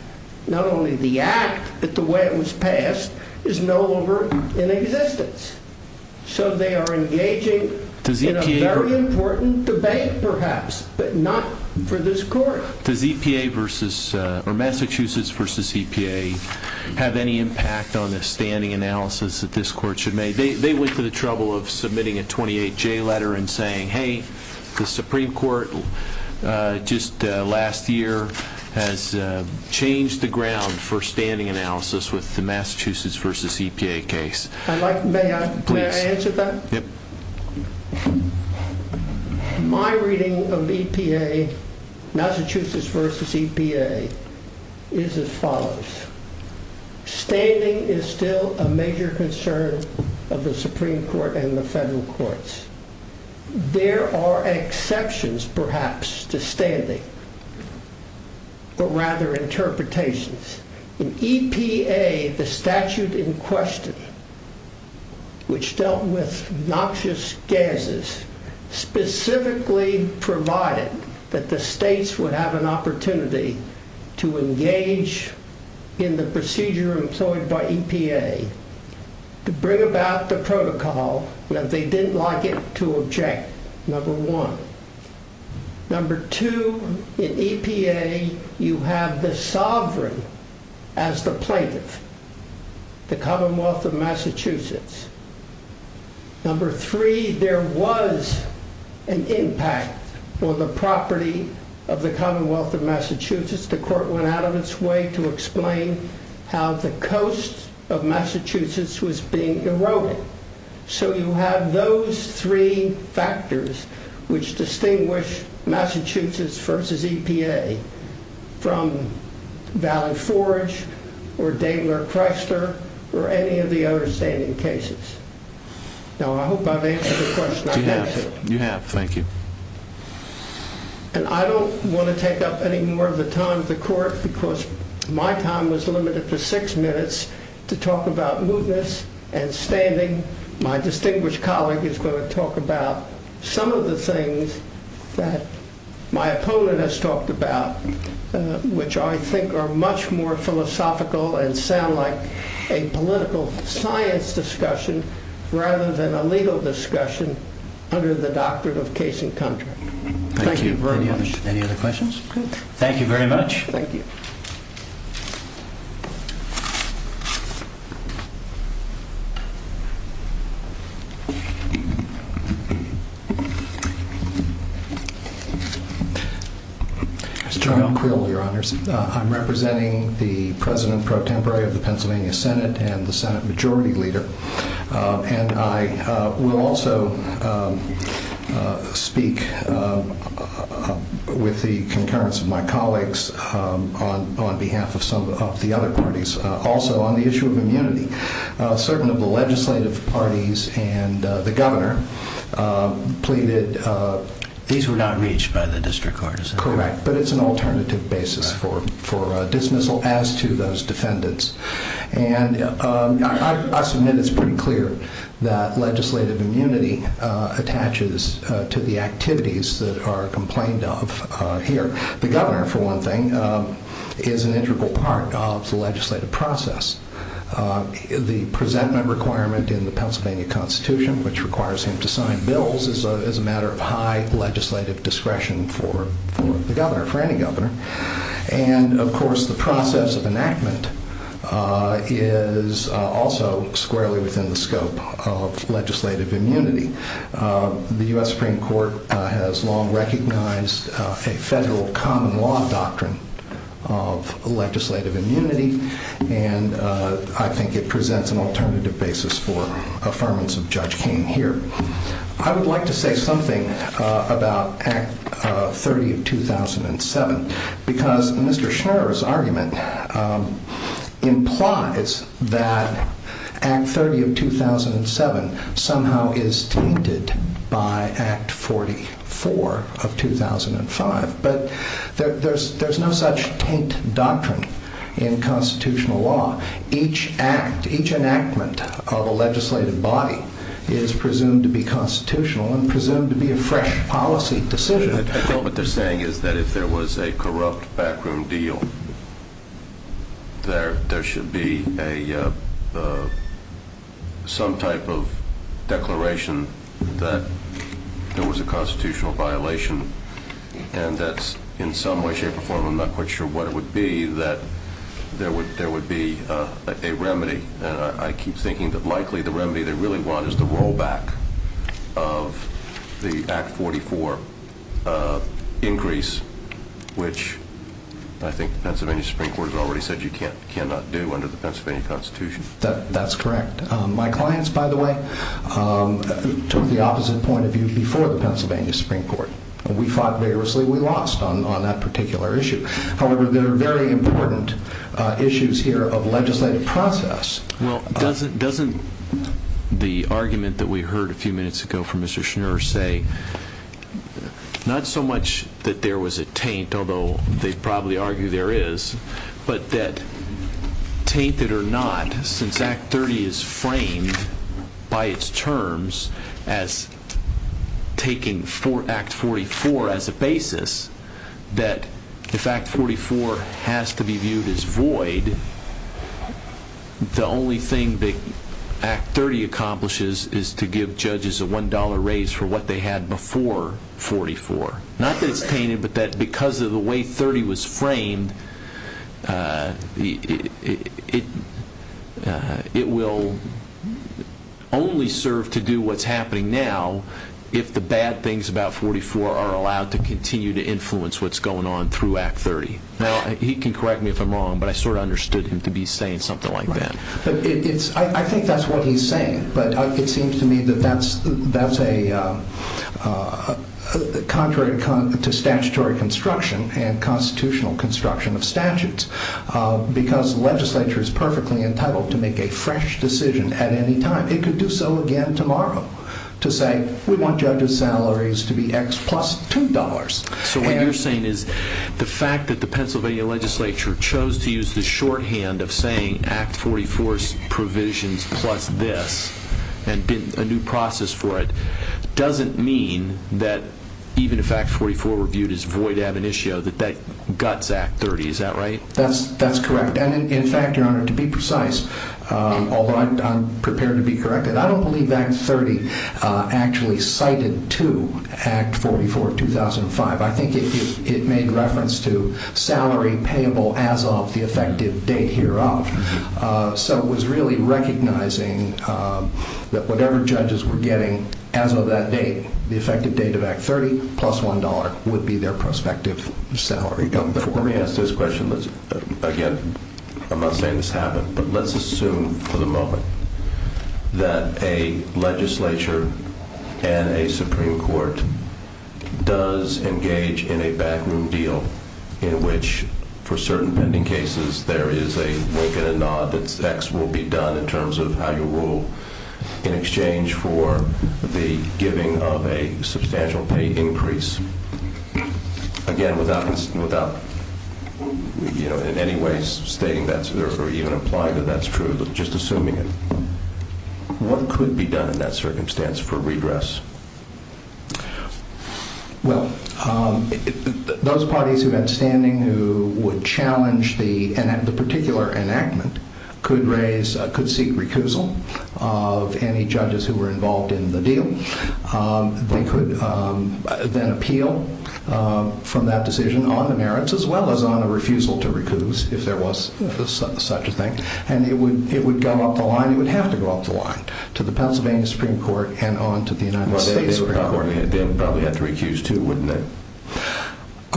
not only the act, but the way it was passed, is no longer in existence. So they are engaging in a very important debate, perhaps, but not for this court. Does E.P.A. versus... or Massachusetts versus E.P.A. have any impact on the standing analysis that this court should make? They went to the trouble of submitting a 28-J letter and saying, hey, the Supreme Court just last year has changed the ground for standing analysis with the Massachusetts versus E.P.A. case. May I answer that? Yep. My reading of E.P.A., Massachusetts versus E.P.A., is as follows. Standing is still a major concern of the Supreme Court and the federal courts. There are exceptions, perhaps, to standing, but rather interpretations. In E.P.A., the statute in question, which dealt with noxious gases, specifically provided that the states would have an opportunity to engage in the procedure employed by E.P.A. to bring about the protocol that they didn't like it to object. Number one. Number two, in E.P.A., you have the sovereign as the plaintiff, the Commonwealth of Massachusetts. Number three, there was an impact on the property of the Commonwealth of Massachusetts. The court went out of its way to explain how the coast of Massachusetts was being eroded. So you have those three factors which distinguish Massachusetts versus E.P.A. from Valley Forge or Daigler-Chrysler or any of the other standing cases. Now, I hope I've answered the question. You have, thank you. And I don't want to take up any more of the time of the court because my time was limited to six minutes to talk about mootness and standing. My distinguished colleague is going to talk about some of the things that my opponent has talked about, which I think are much more philosophical and sound like a political science discussion rather than a legal discussion under the doctrine of case and contract. Thank you very much. Thank you. Any other questions? Thank you very much. Thank you. Mr. John Krull, Your Honors. I'm representing the President Pro Tempore of the Pennsylvania Senate and the Senate Majority Leader and I will also speak with the concurrence of my colleagues on behalf of some of the other parties. Also, on the issue of immunity, certain of the legislative parties and the governor plead that these were not reached by the district courts. Correct, but it's an alternative basis for dismissal as to those defendants. I submit it's pretty clear that legislative immunity attaches to the activities that are complained of here. The governor, for one thing, is an integral part of the legislative process. The presentment requirement in the Pennsylvania Constitution, which requires him to sign bills, is a matter of high legislative discretion for the governor, for any governor. And, of course, the process of enactment is also squarely within the scope of legislative immunity. The U.S. Supreme Court has long recognized a federal common law doctrine of legislative immunity and I think it presents an alternative basis for affirmance of Judge Kaine here. I would like to say something about Act 30 of 2007 because Mr. Schmerer's argument implies that Act 30 of 2007 somehow is tainted by Act 44 of 2005. But there's no such taint doctrine in constitutional law. Each act, each enactment of a legislative body is presumed to be constitutional and presumed to be a fresh policy decision. What they're saying is that if there was a corrupt backroom deal, there should be some type of declaration that there was a constitutional violation and that's in some way, shape, or form, I'm not quite sure what it would be, that there would be a remedy. I keep thinking that likely the remedy they really want is the rollback of the Act 44 increase, which I think the Pennsylvania Supreme Court has already said you cannot do under the Pennsylvania Constitution. That's correct. My clients, by the way, took the opposite point of view before the Pennsylvania Supreme Court. We fought vigorously and we lost on that particular issue. However, there are very important issues here Doesn't the argument that we heard a few minutes ago from Mr. Schneer say not so much that there was a taint, although they probably argue there is, but that, tainted or not, since Act 30 is framed by its terms as taking Act 44 as the basis, that if Act 44 has to be viewed as void, the only thing that Act 30 accomplishes is to give judges a $1 raise for what they had before 44. Not that it's tainted, but that because of the way 30 was framed, it will only serve to do what's happening now if the bad things about 44 are allowed to continue to influence what's going on through Act 30. He can correct me if I'm wrong, but I sort of understood him to be saying something like that. I think that's what he's saying, but it seems to me that that's contrary to statutory construction and constitutional construction of statutes because the legislature is perfectly entitled to make a fresh decision at any time. It could do so again tomorrow to say we want judges' salaries to be X plus $2. So what you're saying is the fact that the Pennsylvania legislature chose to use the shorthand of saying Act 44's provisions plus this and did a new process for it, doesn't mean that even if Act 44 were viewed as void ab initio, that that guts Act 30, is that right? That's correct. In fact, Your Honor, to be precise, although I'm prepared to be correct, I don't believe Act 30 actually cited to Act 44 of 2005. I think it made reference to salary payable as of the effective date hereof. So it was really recognizing that whatever judges were getting as of that date, the effective date of Act 30 plus $1 would be their prospective salary. Let me ask this question again. I'm not saying this happened, but let's assume for the moment that a legislature and a Supreme Court does engage in a backroom deal in which, for certain pending cases, there is a wink and a nod that X will be done in terms of how you rule in exchange for the giving of a substantial pay increase. Again, without in any way stating that, or even implying that that's true, just assuming it. What could be done in that circumstance for redress? Well, those parties who have standing who would challenge the particular enactment could seek recousal of any judges who were involved in the deal. They could then appeal from that decision on the merits as well as on a refusal to recuse if there was such a thing. And it would go off the line. It would have to go off the line to the Pennsylvania Supreme Court and on to the United States Supreme Court. Well, they probably had three cues too, wouldn't they?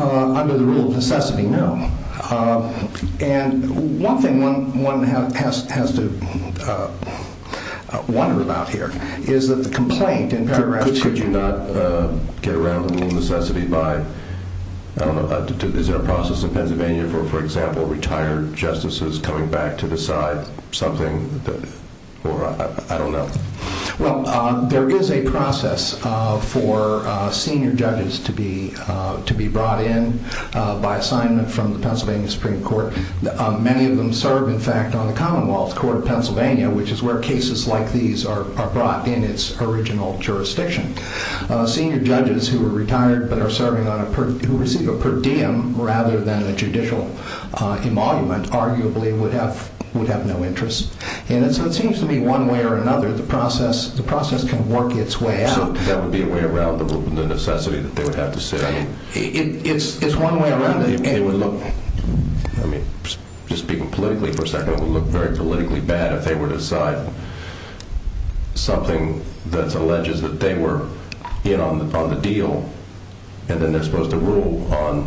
Under the rule of necessity, no. And one thing one has to wonder about here is that the complaint in paragraph 2. Could you not get around the necessity by, I don't know, is there a process in Pennsylvania for, for example, retired justices coming back to decide something? Or I don't know. Well, there is a process for senior judges to be brought in by assignment from the Pennsylvania Supreme Court. Many of them serve, in fact, on the Commonwealth Court of Pennsylvania, which is where cases like these are brought in its original jurisdiction. Senior judges who are retired but are serving on a, who receive a per diem rather than a judicial emolument arguably would have no interest. And so it seems to me one way or another the process, the process can work its way out. So that would be a way around the rule of necessity that they would have to sit out? It's one way around it. And it would look, I mean, just people politically, for example, it would look very politically bad if they were to decide something that alleges that they were in on the deal and then they're supposed to rule on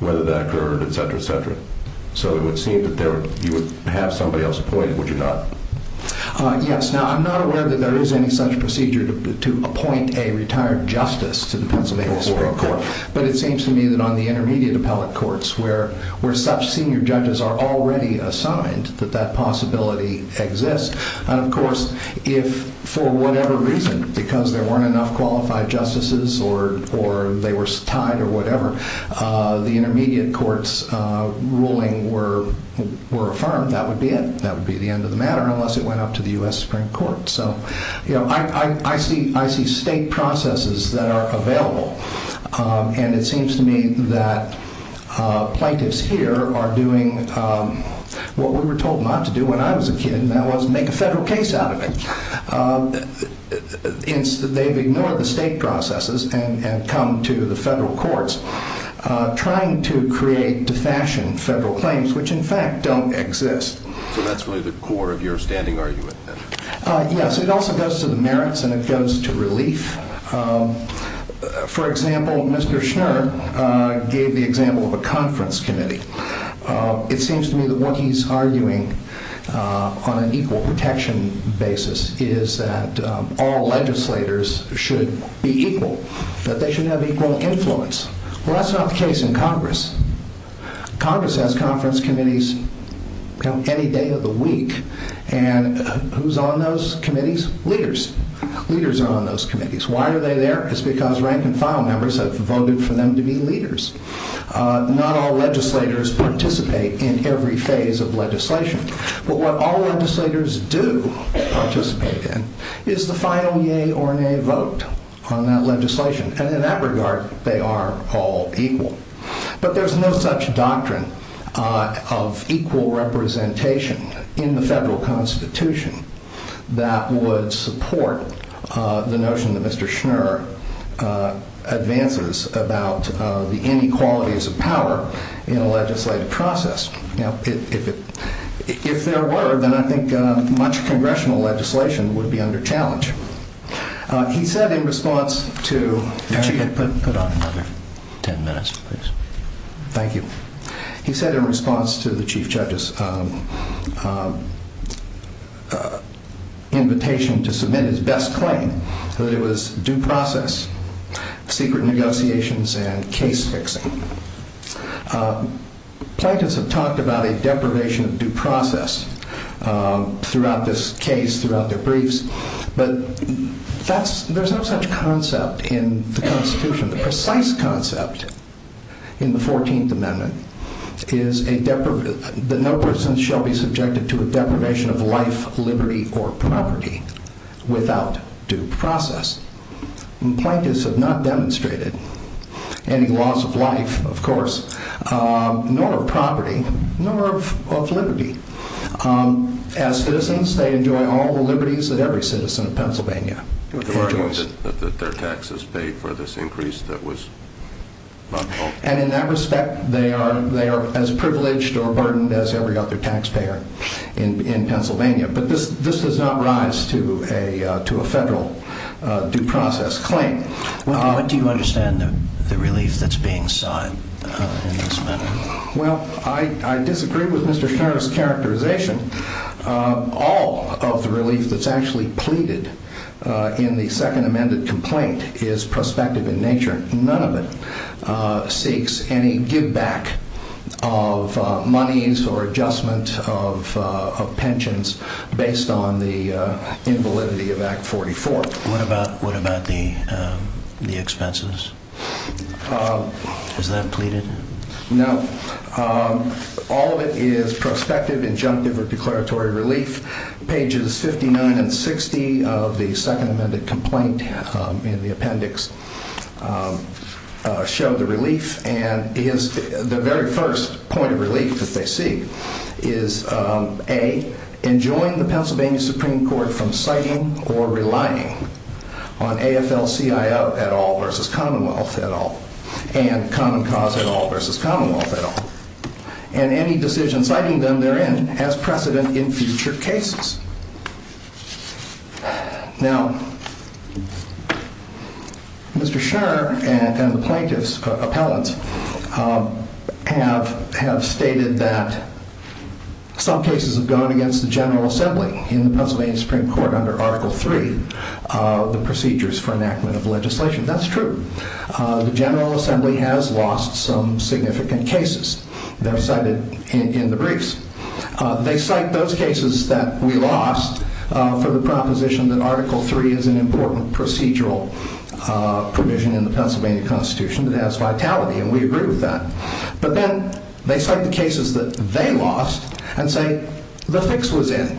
whether that occurred, et cetera, et cetera. So it would seem that you would have somebody else appointed, would you not? Yes. Now, I'm not aware that there is any such procedure to appoint a retired justice to the Pennsylvania Supreme Court. But it seems to me that on the intermediate appellate courts where such senior judges are already assigned, that that possibility exists. And, of course, if for whatever reason, because there weren't enough qualified justices or they were tied or whatever, the intermediate court's ruling were affirmed, that would be it. That would be the end of the matter unless it went up to the U.S. Supreme Court. So, you know, I see state processes that are available. And it seems to me that plaintiffs here are doing what we were told not to do when I was a kid, and that was make a federal case out of it. They've ignored the state processes and come to the federal courts trying to create, to fashion federal claims, which, in fact, don't exist. So that's really the core of your standing argument. Yes. It also goes to the merits and it goes to relief. For example, Mr. Schwerner gave the example of a conference committee. It seems to me that what he's arguing on an equal protection basis is that all legislators should be equal, that they should have equal influence. Well, that's not the case in Congress. Congress has conference committees any day of the week. And who's on those committees? Leaders. Leaders are on those committees. Why are they there? It's because rank-and-file members have voted for them to be leaders. Not all legislators participate in every phase of legislation. But what all legislators do participate in is the final yea or nay vote on that legislation. And in that regard, they are all equal. But there's no such doctrine of equal representation in the federal Constitution that would support the notion that Mr. Schwerner advances about the inequalities of power in a legislative process. Now, if there were, then I think much congressional legislation would be under challenge. He said in response to... Put on another ten minutes, please. Thank you. He said in response to the chief judge's invitation to submit his best claim that it was due process, secret negotiations, and case-fixing. Plaintiffs have talked about a deprivation of due process throughout this case, throughout their briefs. There's no such concept in the Constitution. The precise concept in the 14th Amendment is that no person shall be subjected to a deprivation of life, liberty, or property without due process. Plaintiffs have not demonstrated any loss of life, of course, nor of property, nor of liberty. As citizens, they enjoy all the liberties that every citizen of Pennsylvania enjoys. Their taxes paid for this increase that was... And in that respect, they are as privileged or burdened as every other taxpayer in Pennsylvania. But this does not rise to a federal due process claim. Do you understand the relief that's being sought in this matter? Well, I disagree with Mr. Scherrer's characterization. All of the relief that's actually pleaded in the second amended complaint is prospective in nature. None of it seeks any giveback of monies or adjustment of pensions based on the invalidity of Act 44. What about the expenses? Is that pleaded? No. All of it is prospective, injunctive, or declaratory relief. Pages 59 and 60 of the second amended complaint in the appendix show the relief. And the very first point of relief that they see is, A, enjoying the Pennsylvania Supreme Court from citing or relying on AFL-CIO et al. versus Commonwealth et al. And Common Cause et al. versus Commonwealth et al. And any decision citing them therein has precedent in future cases. Now, Mr. Scherrer and an appellant have stated that some cases have gone against the General Assembly in the Pennsylvania Supreme Court under Article III of the Procedures for Enactment of Legislation. That's true. The General Assembly has lost some significant cases that are cited in the briefs. They cite those cases that we lost for the proposition that Article III is an important procedural provision in the Pennsylvania Constitution that has vitality, and we agree with that. But then they cite the cases that they lost and say the fix was in.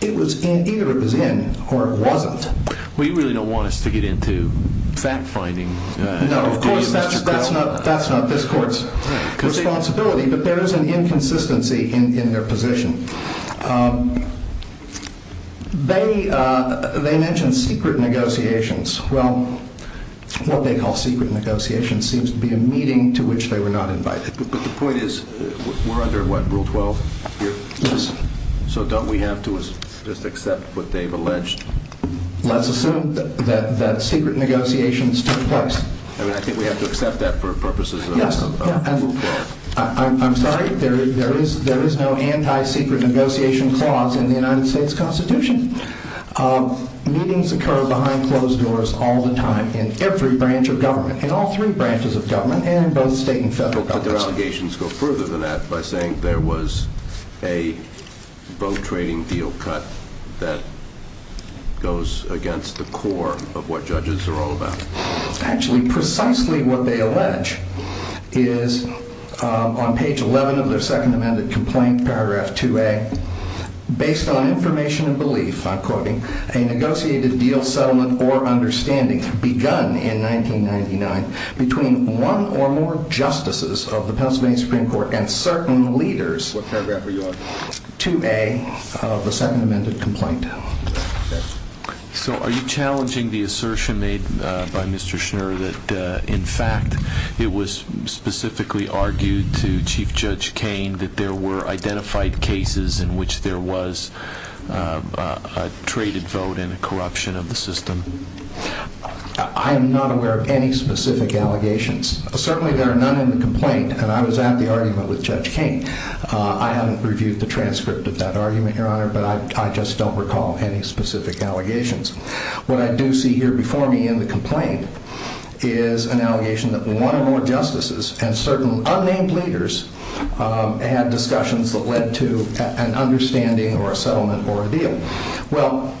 It was in. Either it was in or it wasn't. Well, you really don't want us to get into fact-finding. No, of course, that's not this court's responsibility, but there is an inconsistency in their position. They mentioned secret negotiations. Well, what they call secret negotiations seems to be a meeting to which they were not invited. But the point is we're under what, Rule 12? Yes. Let's assume that secret negotiations took place. I mean, I think we have to accept that for purposes of this. Yes. I'm sorry, there is no anti-secret negotiation clause in the United States Constitution. Meetings occur behind closed doors all the time in every branch of government, in all three branches of government, and in both state and federal governments. But their allegations go further than that by saying there was a both trading deal cut that goes against the core of what judges are all about. Actually, precisely what they allege is on page 11 of their Second Amended Complaint, paragraph 2A, based on information and belief, I'm quoting, a negotiated deal, settlement, or understanding begun in 1999 between one or more justices of the Pennsylvania Supreme Court and certain leaders, whichever ever you are, 2A of the Second Amended Complaint. So are you challenging the assertion made by Mr. Schneer that, in fact, it was specifically argued to Chief Judge Kaine that there were identified cases in which there was a traded vote in a corruption of the system? I am not aware of any specific allegations. Certainly there are none in the complaint, and I was at the argument with Judge Kaine. I haven't reviewed the transcript of that argument, Your Honor, but I just don't recall any specific allegations. What I do see here before me in the complaint is an allegation that one or more justices and certain unnamed leaders had discussions that led to an understanding or a settlement or a deal. Well,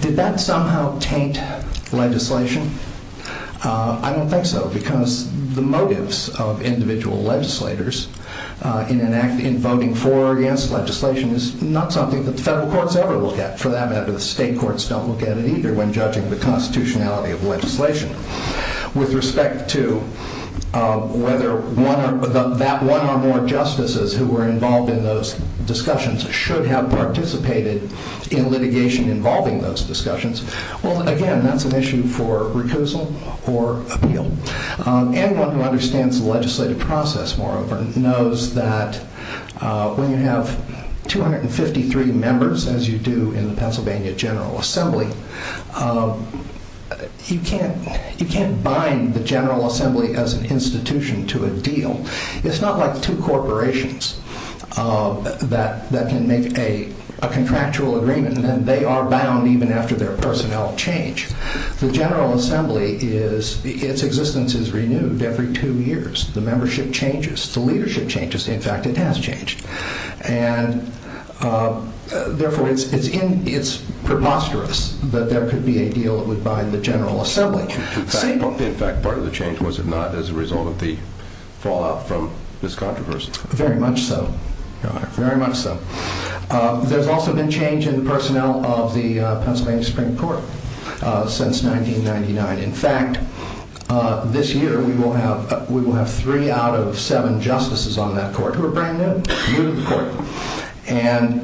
did that somehow taint legislation? I don't think so, because the motives of individual legislators in voting for or against legislation is not something the federal courts ever look at. For that matter, the state courts don't look at it either when judging the constitutionality of legislation. With respect to whether that one or more justices who were involved in those discussions should have participated in litigation involving those discussions, well, again, that's an issue for recusal or appeal. Anyone who understands the legislative process more often knows that when you have 253 members, as you do in the Pennsylvania General Assembly, you can't bind the General Assembly as an institution to a deal. It's not like two corporations that can make a contractual agreement and then they are bound even after their personnel change. The General Assembly, its existence is renewed every two years. The membership changes. The leadership changes. In fact, it has changed. And therefore, it's preposterous that there could be a deal that would bind the General Assembly. In fact, part of the change was if not as a result of the fallout from this controversy. Very much so. Very much so. There's also been change in personnel of the Pennsylvania Supreme Court since 1999. In fact, this year we will have three out of seven justices on that court who are brand new to the court. And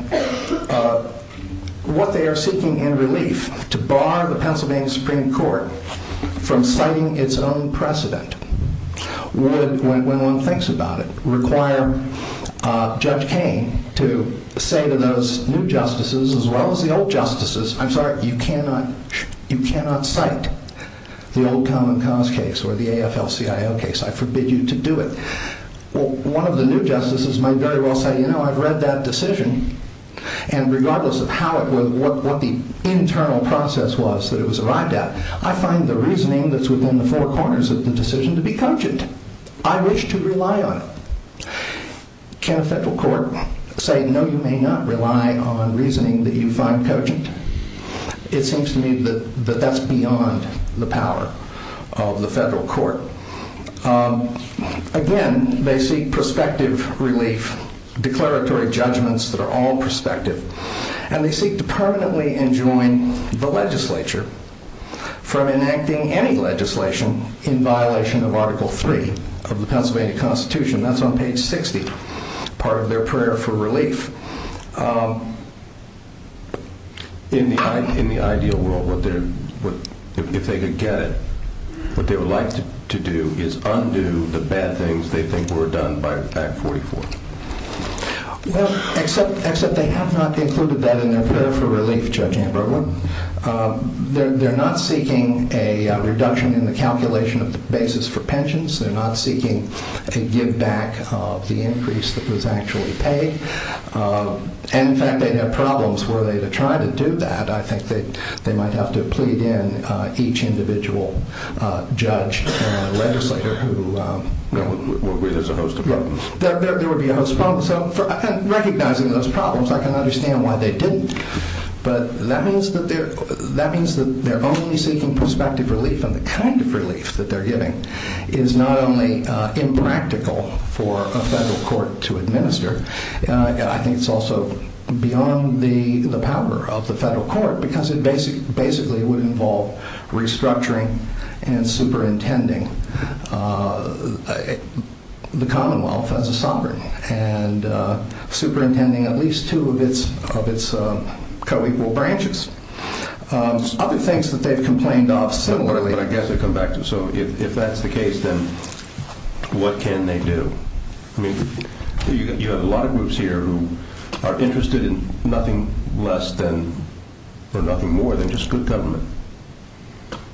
what they are seeking in relief to bar the Pennsylvania Supreme Court from citing its own precedent when one thinks about it, requiring Judge Kaine to say to those new justices as well as the old justices, I'm sorry, you cannot cite the old Common Cause case or the AFL-CIO case. I forbid you to do it. Well, one of the new justices may very well say, you know, I've read that decision, and regardless of how it was, what the internal process was that it was arrived at, I find the reasoning that's within the four corners of the decision to be cogent. I wish to rely on it. Can a federal court say, no, you may not rely on reasoning that you find cogent? It seems to me that that's beyond the power of the federal court. Again, they seek prospective relief, declaratory judgments that are all prospective, and they seek to permanently enjoin the legislature for enacting any legislation in violation of Article III of the Pennsylvania Constitution. That's on page 60. It's part of their prayer for relief. In the ideal world, if they could get it, what they would like to do is undo the bad things they think were done by Act 44. Well, except they have not included that in their prayer for relief, Judge Amberwood. They're not seeking a reduction in the calculation of the basis for pensions. They're not seeking to give back the increase that was actually paid. And in fact, they have problems where they've tried to do that. I think that they might have to plead in each individual judge and legislator. There would be a host of problems. Recognizing those problems, I can understand why they didn't. But that means that they're only seeking prospective relief. And the kind of relief that they're getting is not only impractical for a federal court to administer, I think it's also beyond the power of the federal court, because it basically would involve restructuring and superintending the Commonwealth as a sovereign, and superintending at least two of its co-equal branches. Other things that they've complained of similarly, and I guess they've come back to, so if that's the case, then what can they do? I mean, you have a lot of groups here who are interested in nothing less than, or nothing more than just good government.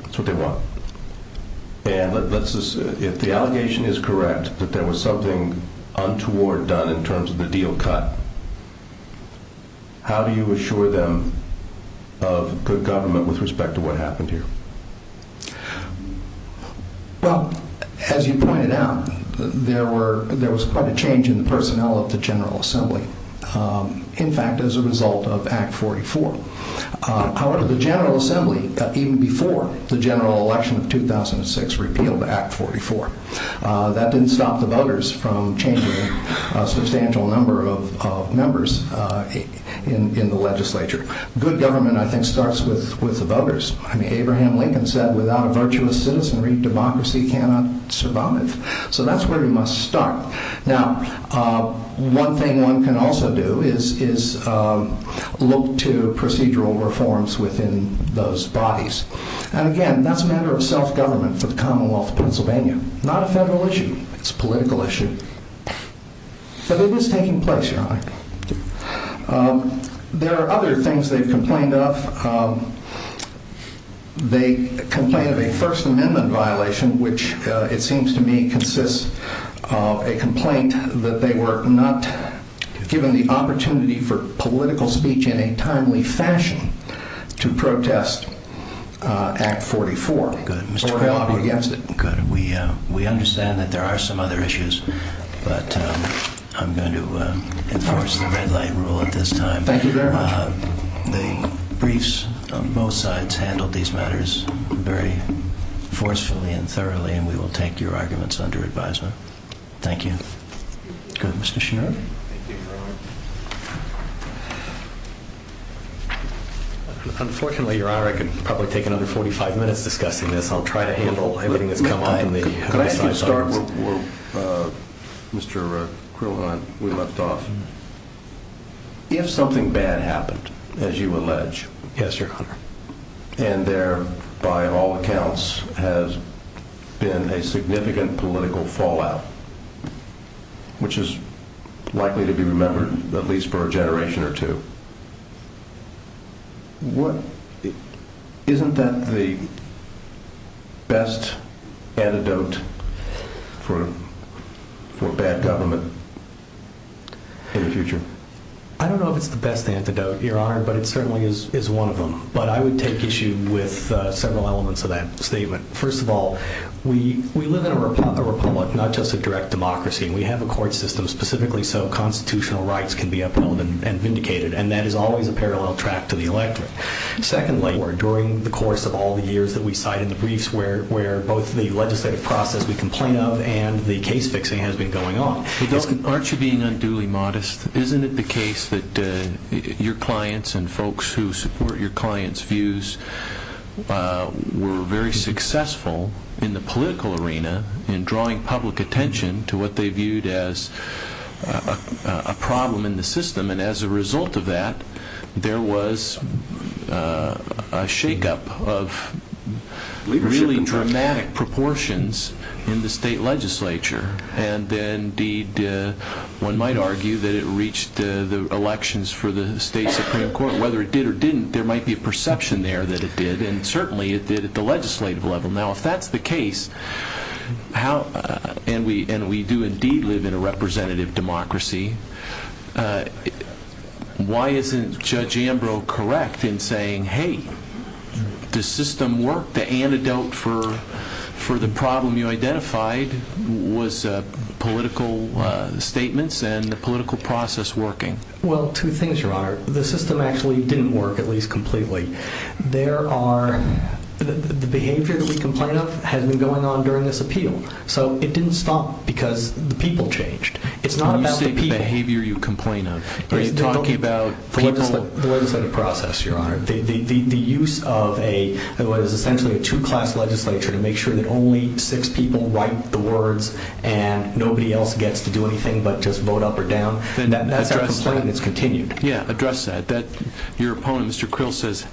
That's what they want. If the allegation is correct that there was something untoward done in terms of the deal cut, how do you assure them of good government with respect to what happened here? Well, as you pointed out, there was quite a change in the personnel at the General Assembly, in fact, as a result of Act 44. However, the General Assembly, even before the general election of 2006, repealed Act 44. That didn't stop the voters from changing a substantial number of members in the legislature. Good government, I think, starts with the voters. Abraham Lincoln said, without a virtuous citizenry, democracy cannot survive. So that's where you must start. Now, one thing one can also do is look to procedural reforms within those bodies. And again, that's a matter of self-government for the Commonwealth of Pennsylvania, not a federal issue. It's a political issue. But it is taking place, you know. There are other things they've complained of. They've complained of a First Amendment violation, which, it seems to me, consists of a complaint that they were not given the opportunity for political speech in a timely fashion to protest Act 44. Good. We understand that there are some other issues, but I'm going to enforce the red line rule at this time. Thank you very much. The briefs on both sides handled these matters very forcefully and thoroughly, and we will take your arguments under advisement. Thank you. Go ahead, Mr. Schneider. Unfortunately, Your Honor, I could probably take another 45 minutes discussing this. I'll try to handle anything that comes up in the meeting. Could I just start with Mr. Krugman? We left off. If something bad happened, as you allege, Yes, Your Honor. and there, by all accounts, has been a significant political fallout, which is likely to be remembered, at least for a generation or two, isn't that the best antidote for bad government? I don't know if it's the best antidote, Your Honor, but it certainly is one of them. But I would take issue with several elements of that statement. First of all, we live in a republic, not just a direct democracy, and we have a court system specifically so constitutional rights can be upheld and vindicated, and that is always a parallel track to the electorate. Secondly, during the course of all the years that we've cited the briefs, where both the legislative process we complain of and the case-fixing has been going on, aren't you being unduly modest? Isn't it the case that your clients and folks who support your clients' views were very successful in the political arena in drawing public attention to what they viewed as a problem in the system, and as a result of that, there was a shake-up of really dramatic proportions in the state legislature, and indeed one might argue that it reached the elections for the state Supreme Court. Whether it did or didn't, there might be a perception there that it did, and certainly it did at the legislative level. Now, if that's the case, and we do indeed live in a representative democracy, why isn't Judge Ambrose correct in saying, hey, the system worked, the antidote for the problem you identified was political statements and the political process working? Well, two things, Your Honor. The system actually didn't work, at least completely. The behavior that we complain of had been going on during this appeal, so it didn't stop because the people changed. It's not about the people. It's about the behavior you complain of. I'm talking about the legislative process, Your Honor. The use of what is essentially a two-class legislature to make sure that only six people write the words and nobody else gets to do anything but just vote up or down, that's a complaint that's continued. Yeah, address that. Your opponent, Mr. Krill, says,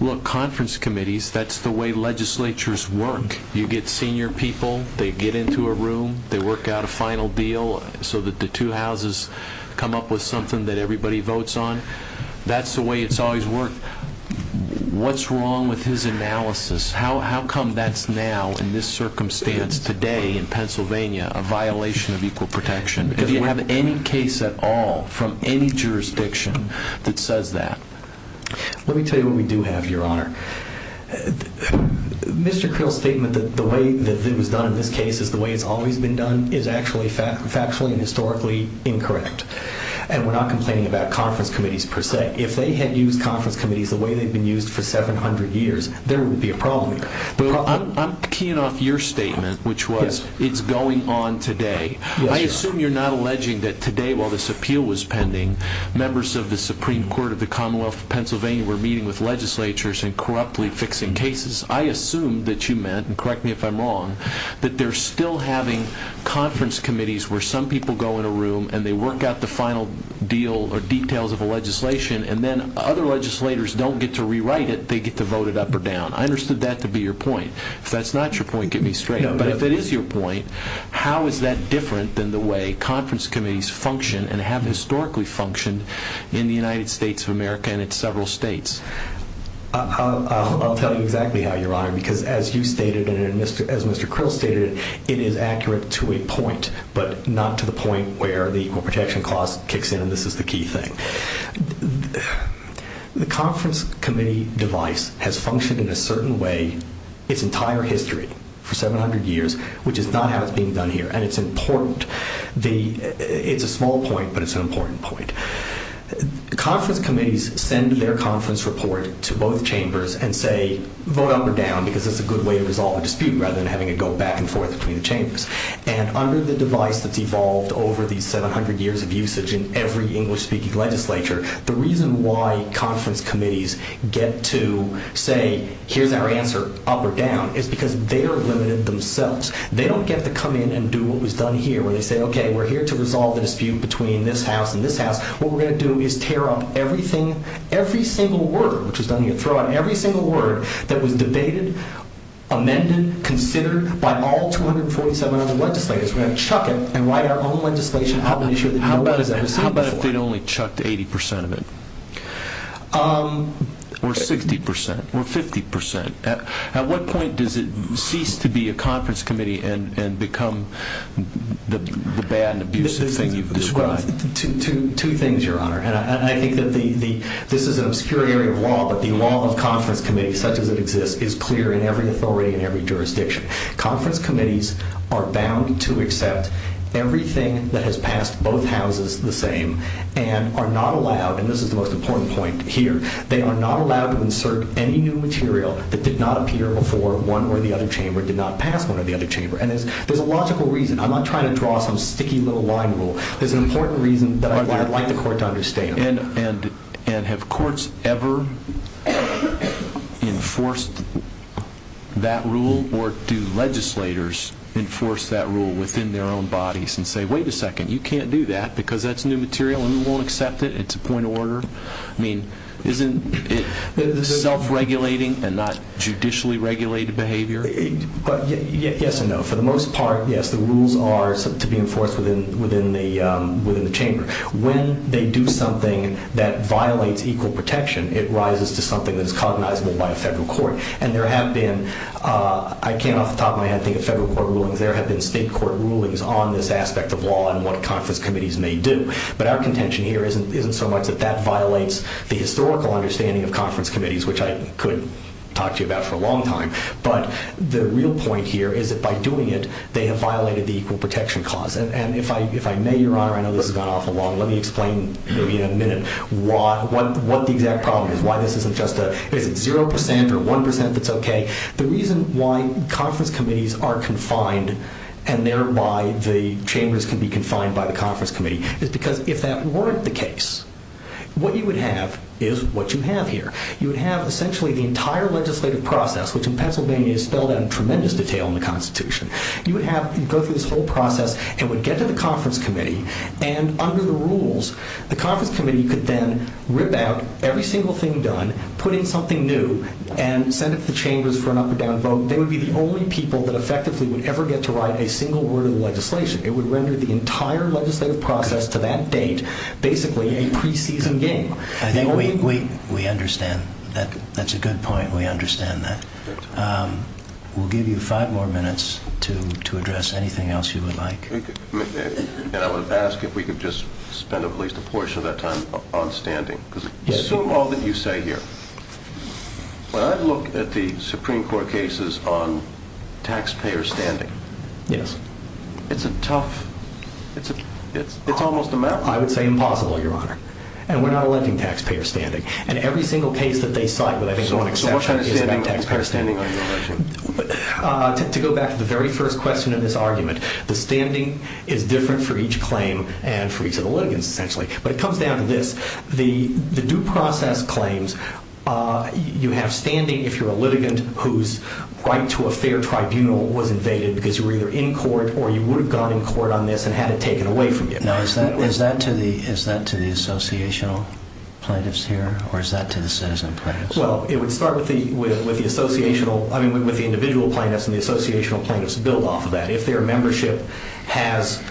look, conference committees, that's the way legislatures work. You get senior people, they get into a room, they work out a final deal so that the two houses come up with something that everybody votes on. That's the way it's always worked. What's wrong with his analysis? How come that's now in this circumstance today in Pennsylvania a violation of equal protection? Do you have any case at all from any jurisdiction that says that? Let me tell you what we do have, Your Honor. Mr. Krill's statement that the way that it was done in this case is the way it's always been done is actually factually and historically incorrect, and we're not complaining about conference committees per se. If they had used conference committees the way they've been used for 700 years, there would be a problem here. I'm keying off your statement, which was it's going on today. I assume you're not alleging that today while this appeal was pending, members of the Supreme Court of the Commonwealth of Pennsylvania were meeting with legislatures and corruptly fixing cases. I assume that you meant, and correct me if I'm wrong, that they're still having conference committees where some people go in a room and they work out the final deal or details of a legislation, and then other legislators don't get to rewrite it, they get to vote it up or down. I understood that to be your point. If that's not your point, get me straight up. But if it is your point, how is that different than the way conference committees function and have historically functioned in the United States of America and in several states? I'll tell you exactly how, Your Honor, because as you stated and as Mr. Crow stated, it is accurate to a point, but not to the point where the Equal Protection Clause kicks in, and this is the key thing. The conference committee device has functioned in a certain way its entire history for 700 years, which is not how it's being done here, and it's important. It's a small point, but it's an important point. Conference committees send their conference report to both chambers and say, vote up or down because it's a good way to resolve a dispute rather than having it go back and forth between the chambers. And under the device that's evolved over these 700 years of usage in every English-speaking legislature, the reason why conference committees get to say, here's our answer, up or down, is because they're limited themselves. They don't get to come in and do what was done here and say, okay, we're here to resolve a dispute between this house and this house. What we're going to do is tear up everything, every single word, which is going to get thrown out, every single word that was debated, amended, considered by all 247 other legislators. We're going to chuck it and write our own legislation. How about if they'd only chucked 80% of it or 60% or 50%? At what point does it cease to be a conference committee and become the bad, abusive thing you've described? Two things, Your Honor. And I think that this is an obscure area of law, but the law of conference committees is clear in every authority and every jurisdiction. Conference committees are bound to accept everything that has passed both houses the same and are not allowed, and this is the most important point here, they are not allowed to insert any new material that did not appear before one or the other chamber, did not pass one or the other chamber. And there's a lot of reasons. I'm not trying to draw some sticky little line rule. There's an important reason that I'd like the court to understand. And have courts ever enforced that rule, or do legislators enforce that rule within their own bodies and say, wait a second, you can't do that because that's new material and we won't accept it, it's a point of order? I mean, is it self-regulating and not judicially regulated behavior? Yes and no. For the most part, yes, the rules are to be enforced within the chamber. When they do something that violates equal protection, it rises to something that is cognizable by a federal court. And there have been, I came off the top of my head, I think a federal court ruling, but there have been state court rulings on this aspect of law and what conference committees may do. But our contention here isn't so much that that violates the historical understanding of conference committees, which I could talk to you about for a long time. But the real point here is that by doing it, they have violated the equal protection clause. And if I may, Your Honor, I know this has gone off the wall, let me explain in a minute what the exact problem is, why this isn't just a 0% or 1% that's okay. The reason why conference committees are confined, and thereby the chambers can be confined by the conference committee, is because if that weren't the case, what you would have is what you have here. You would have essentially the entire legislative process, which in Pennsylvania is spelled out in tremendous detail in the Constitution. You would have to go through this whole process and would get to the conference committee, and under the rules, the conference committee could then rip out every single thing done, put in something new, and send it to chambers for an up or down vote. They would be the only people that effectively would ever get to write a single word of legislation. It would render the entire legislative process to that date basically a preseason game. I think we understand. That's a good point. We understand that. We'll give you five more minutes to address anything else you would like. I would ask if we could just spend at least a portion of that time on standing. Assume all that you say here. When I look at the Supreme Court cases on taxpayer standing, it's a tough, it's almost a marathon. I would say impossible, Your Honor. And we're not electing taxpayer standing. In every single case that they cite, I don't want to get into taxpayer standing. To go back to the very first question of this argument, the standing is different for each claim and for each of the litigants essentially. But it comes down to this. The due process claims, you have standing if you're a litigant whose right to a fair tribunal was invaded because you were either in court or you would have gone in court on this and had it taken away from you. Now, is that to the associational plaintiffs here or is that to the citizen plaintiffs? Well, it would start with the individual plaintiffs and the associational plaintiffs build off of that. If their membership has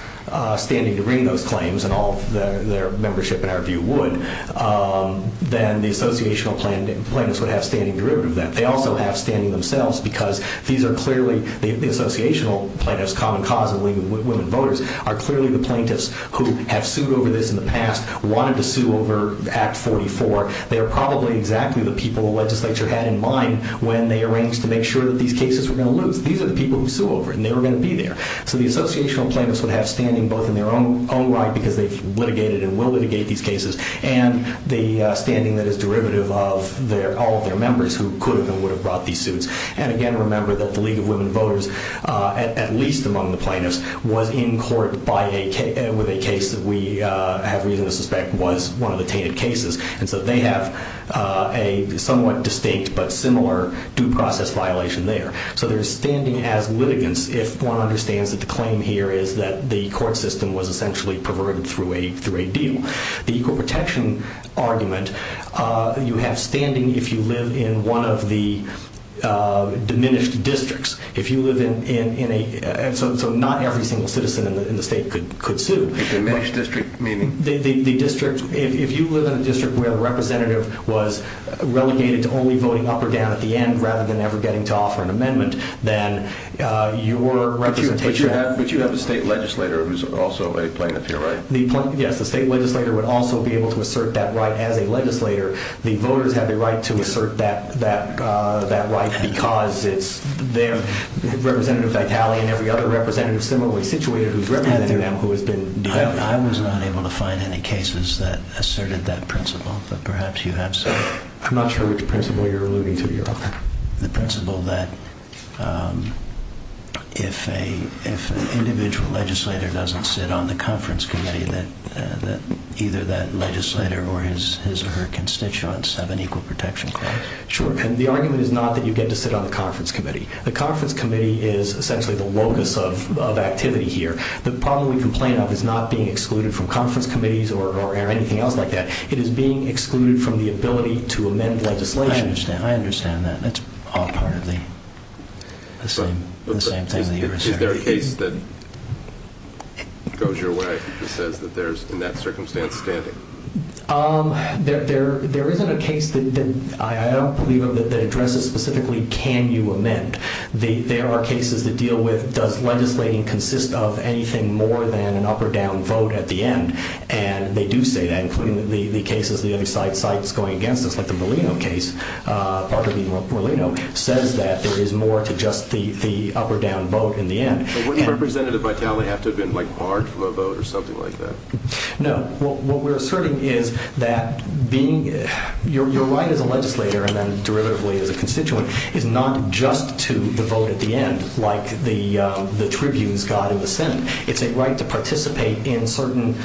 standing to bring those claims and all their membership in our view would, then the associational plaintiffs would have standing derivative of that. They also have standing themselves because these are clearly, the associational plaintiffs, common cause, the women voters, are clearly the plaintiffs who have sued over this in the past, wanted to sue over Act 44. They're probably exactly the people the legislature had in mind when they arranged to make sure that these cases were going to lose. These are the people who sued over it and they were going to be there. So the associational plaintiffs would have standing both in their own right because they litigated and will litigate these cases, and the standing that is derivative of all of their members who could and would have brought these suits. And again, remember that the League of Women Voters, at least among the plaintiffs, was in court with a case that we have reason to suspect was one of the tainted cases. And so they have a somewhat distinct but similar due process violation there. So there's standing as litigants if one understands that the claim here is that the court system was essentially perverted through a deal. The equal protection argument, you have standing if you live in one of the diminished districts. So not every single citizen in the state could sue. Diminished district meaning? If you live in a district where the representative was relegated to only going up or down at the end rather than ever getting to offer an amendment, then your representation... But you have a state legislator who's also a plaintiff, right? Yes, the state legislator would also be able to assert that right as a legislator. The voters have the right to assert that right because it's their representative's italian and the other representative is similarly situated who's representing them who has been... I was not able to find any cases that asserted that principle, but perhaps you had some. I'm not sure which principle you're alluding to, Your Honor. The principle that if an individual legislator doesn't sit on the conference committee, that either that legislator or his or her constituents have an equal protection claim. Sure, and the argument is not that you get to sit on the conference committee. The conference committee is essentially the locus of activity here. The problem with the plaintiff is not being excluded from conference committees or anything else like that. It is being excluded from the ability to amend legislation. I understand that. That's all partly the same thing that you're saying. Is there a case that goes your way that says that there's, in that circumstance, standing? There isn't a case that I don't believe of that addresses specifically can you amend. There are cases that deal with does legislating consist of anything more than an up or down vote at the end, and they do say that, including the cases the other side fights going against us, like the Molina case. It says that there is more to just the up or down vote in the end. Wouldn't a representative like that only have to have been barred from a vote or something like that? No. What we're asserting is that your right as a legislator and then derivatively as a constituent is not just to vote at the end like the tribunes got in the Senate. It's a right to participate in certain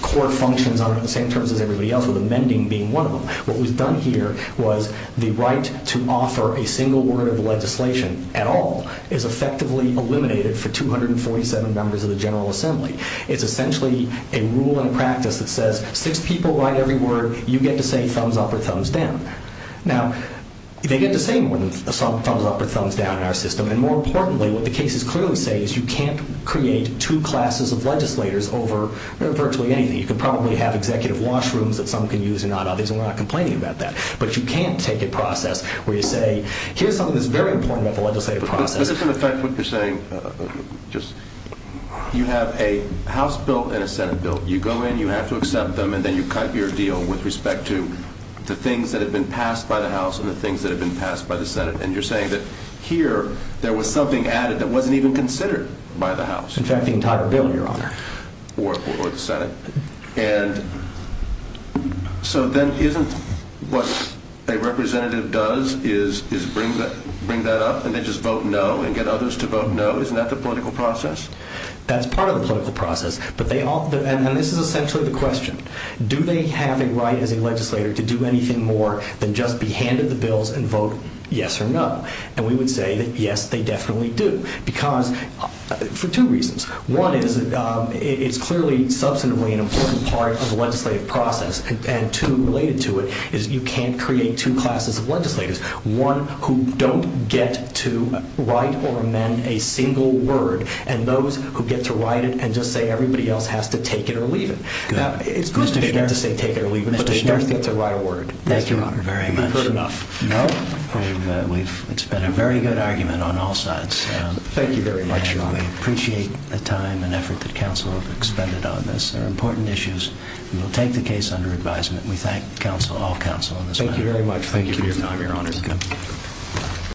court functions in terms of everything else with amending being one of them. What was done here was the right to offer a single word of legislation at all is effectively eliminated for 247 members of the General Assembly. It's essentially a rule and practice that says since people write every word, you get to say thumbs up or thumbs down. Now, they get the same thumbs up or thumbs down in our system, and more importantly, what the cases clearly say is you can't create two classes of legislators over virtually anything. You can probably have executive washrooms that some can use and others are not complaining about that, but you can't take a process where you say, here's something that's very important about the legislative process. Does this affect what you're saying? You have a House bill and a Senate bill. You go in, you have to accept them, and then you cut your deal with respect to the things that have been passed by the House and the things that have been passed by the Senate. And you're saying that here there was something added that wasn't even considered by the House. In fact, the entire bill, Your Honor. Or the Senate. And so then isn't what a representative does is bring that up and then just vote no and get others to vote no? Isn't that the political process? That's part of the political process, and this is essentially the question. Do they have a right as a legislator to do anything more than just be handed the bills and vote yes or no? And we would say that, yes, they definitely do. Because for two reasons. One is it's clearly substantively an important part of the legislative process, and two related to it is you can't create two classes of legislators, one who don't get to write or amend a single word, and those who get to write it and just say everybody else has to take it or leave it. They get to take it or leave it, but they never get to write a word. Thank you, Your Honor. Not good enough. No? It's been a very good argument on all sides. Thank you very much, Your Honor. We appreciate the time and effort that counsel has expended on this. They're important issues. We'll take the case under advisement. We thank counsel, all counsel, on this matter. Thank you very much. Thank you, Your Honor. Your Honor, thank you.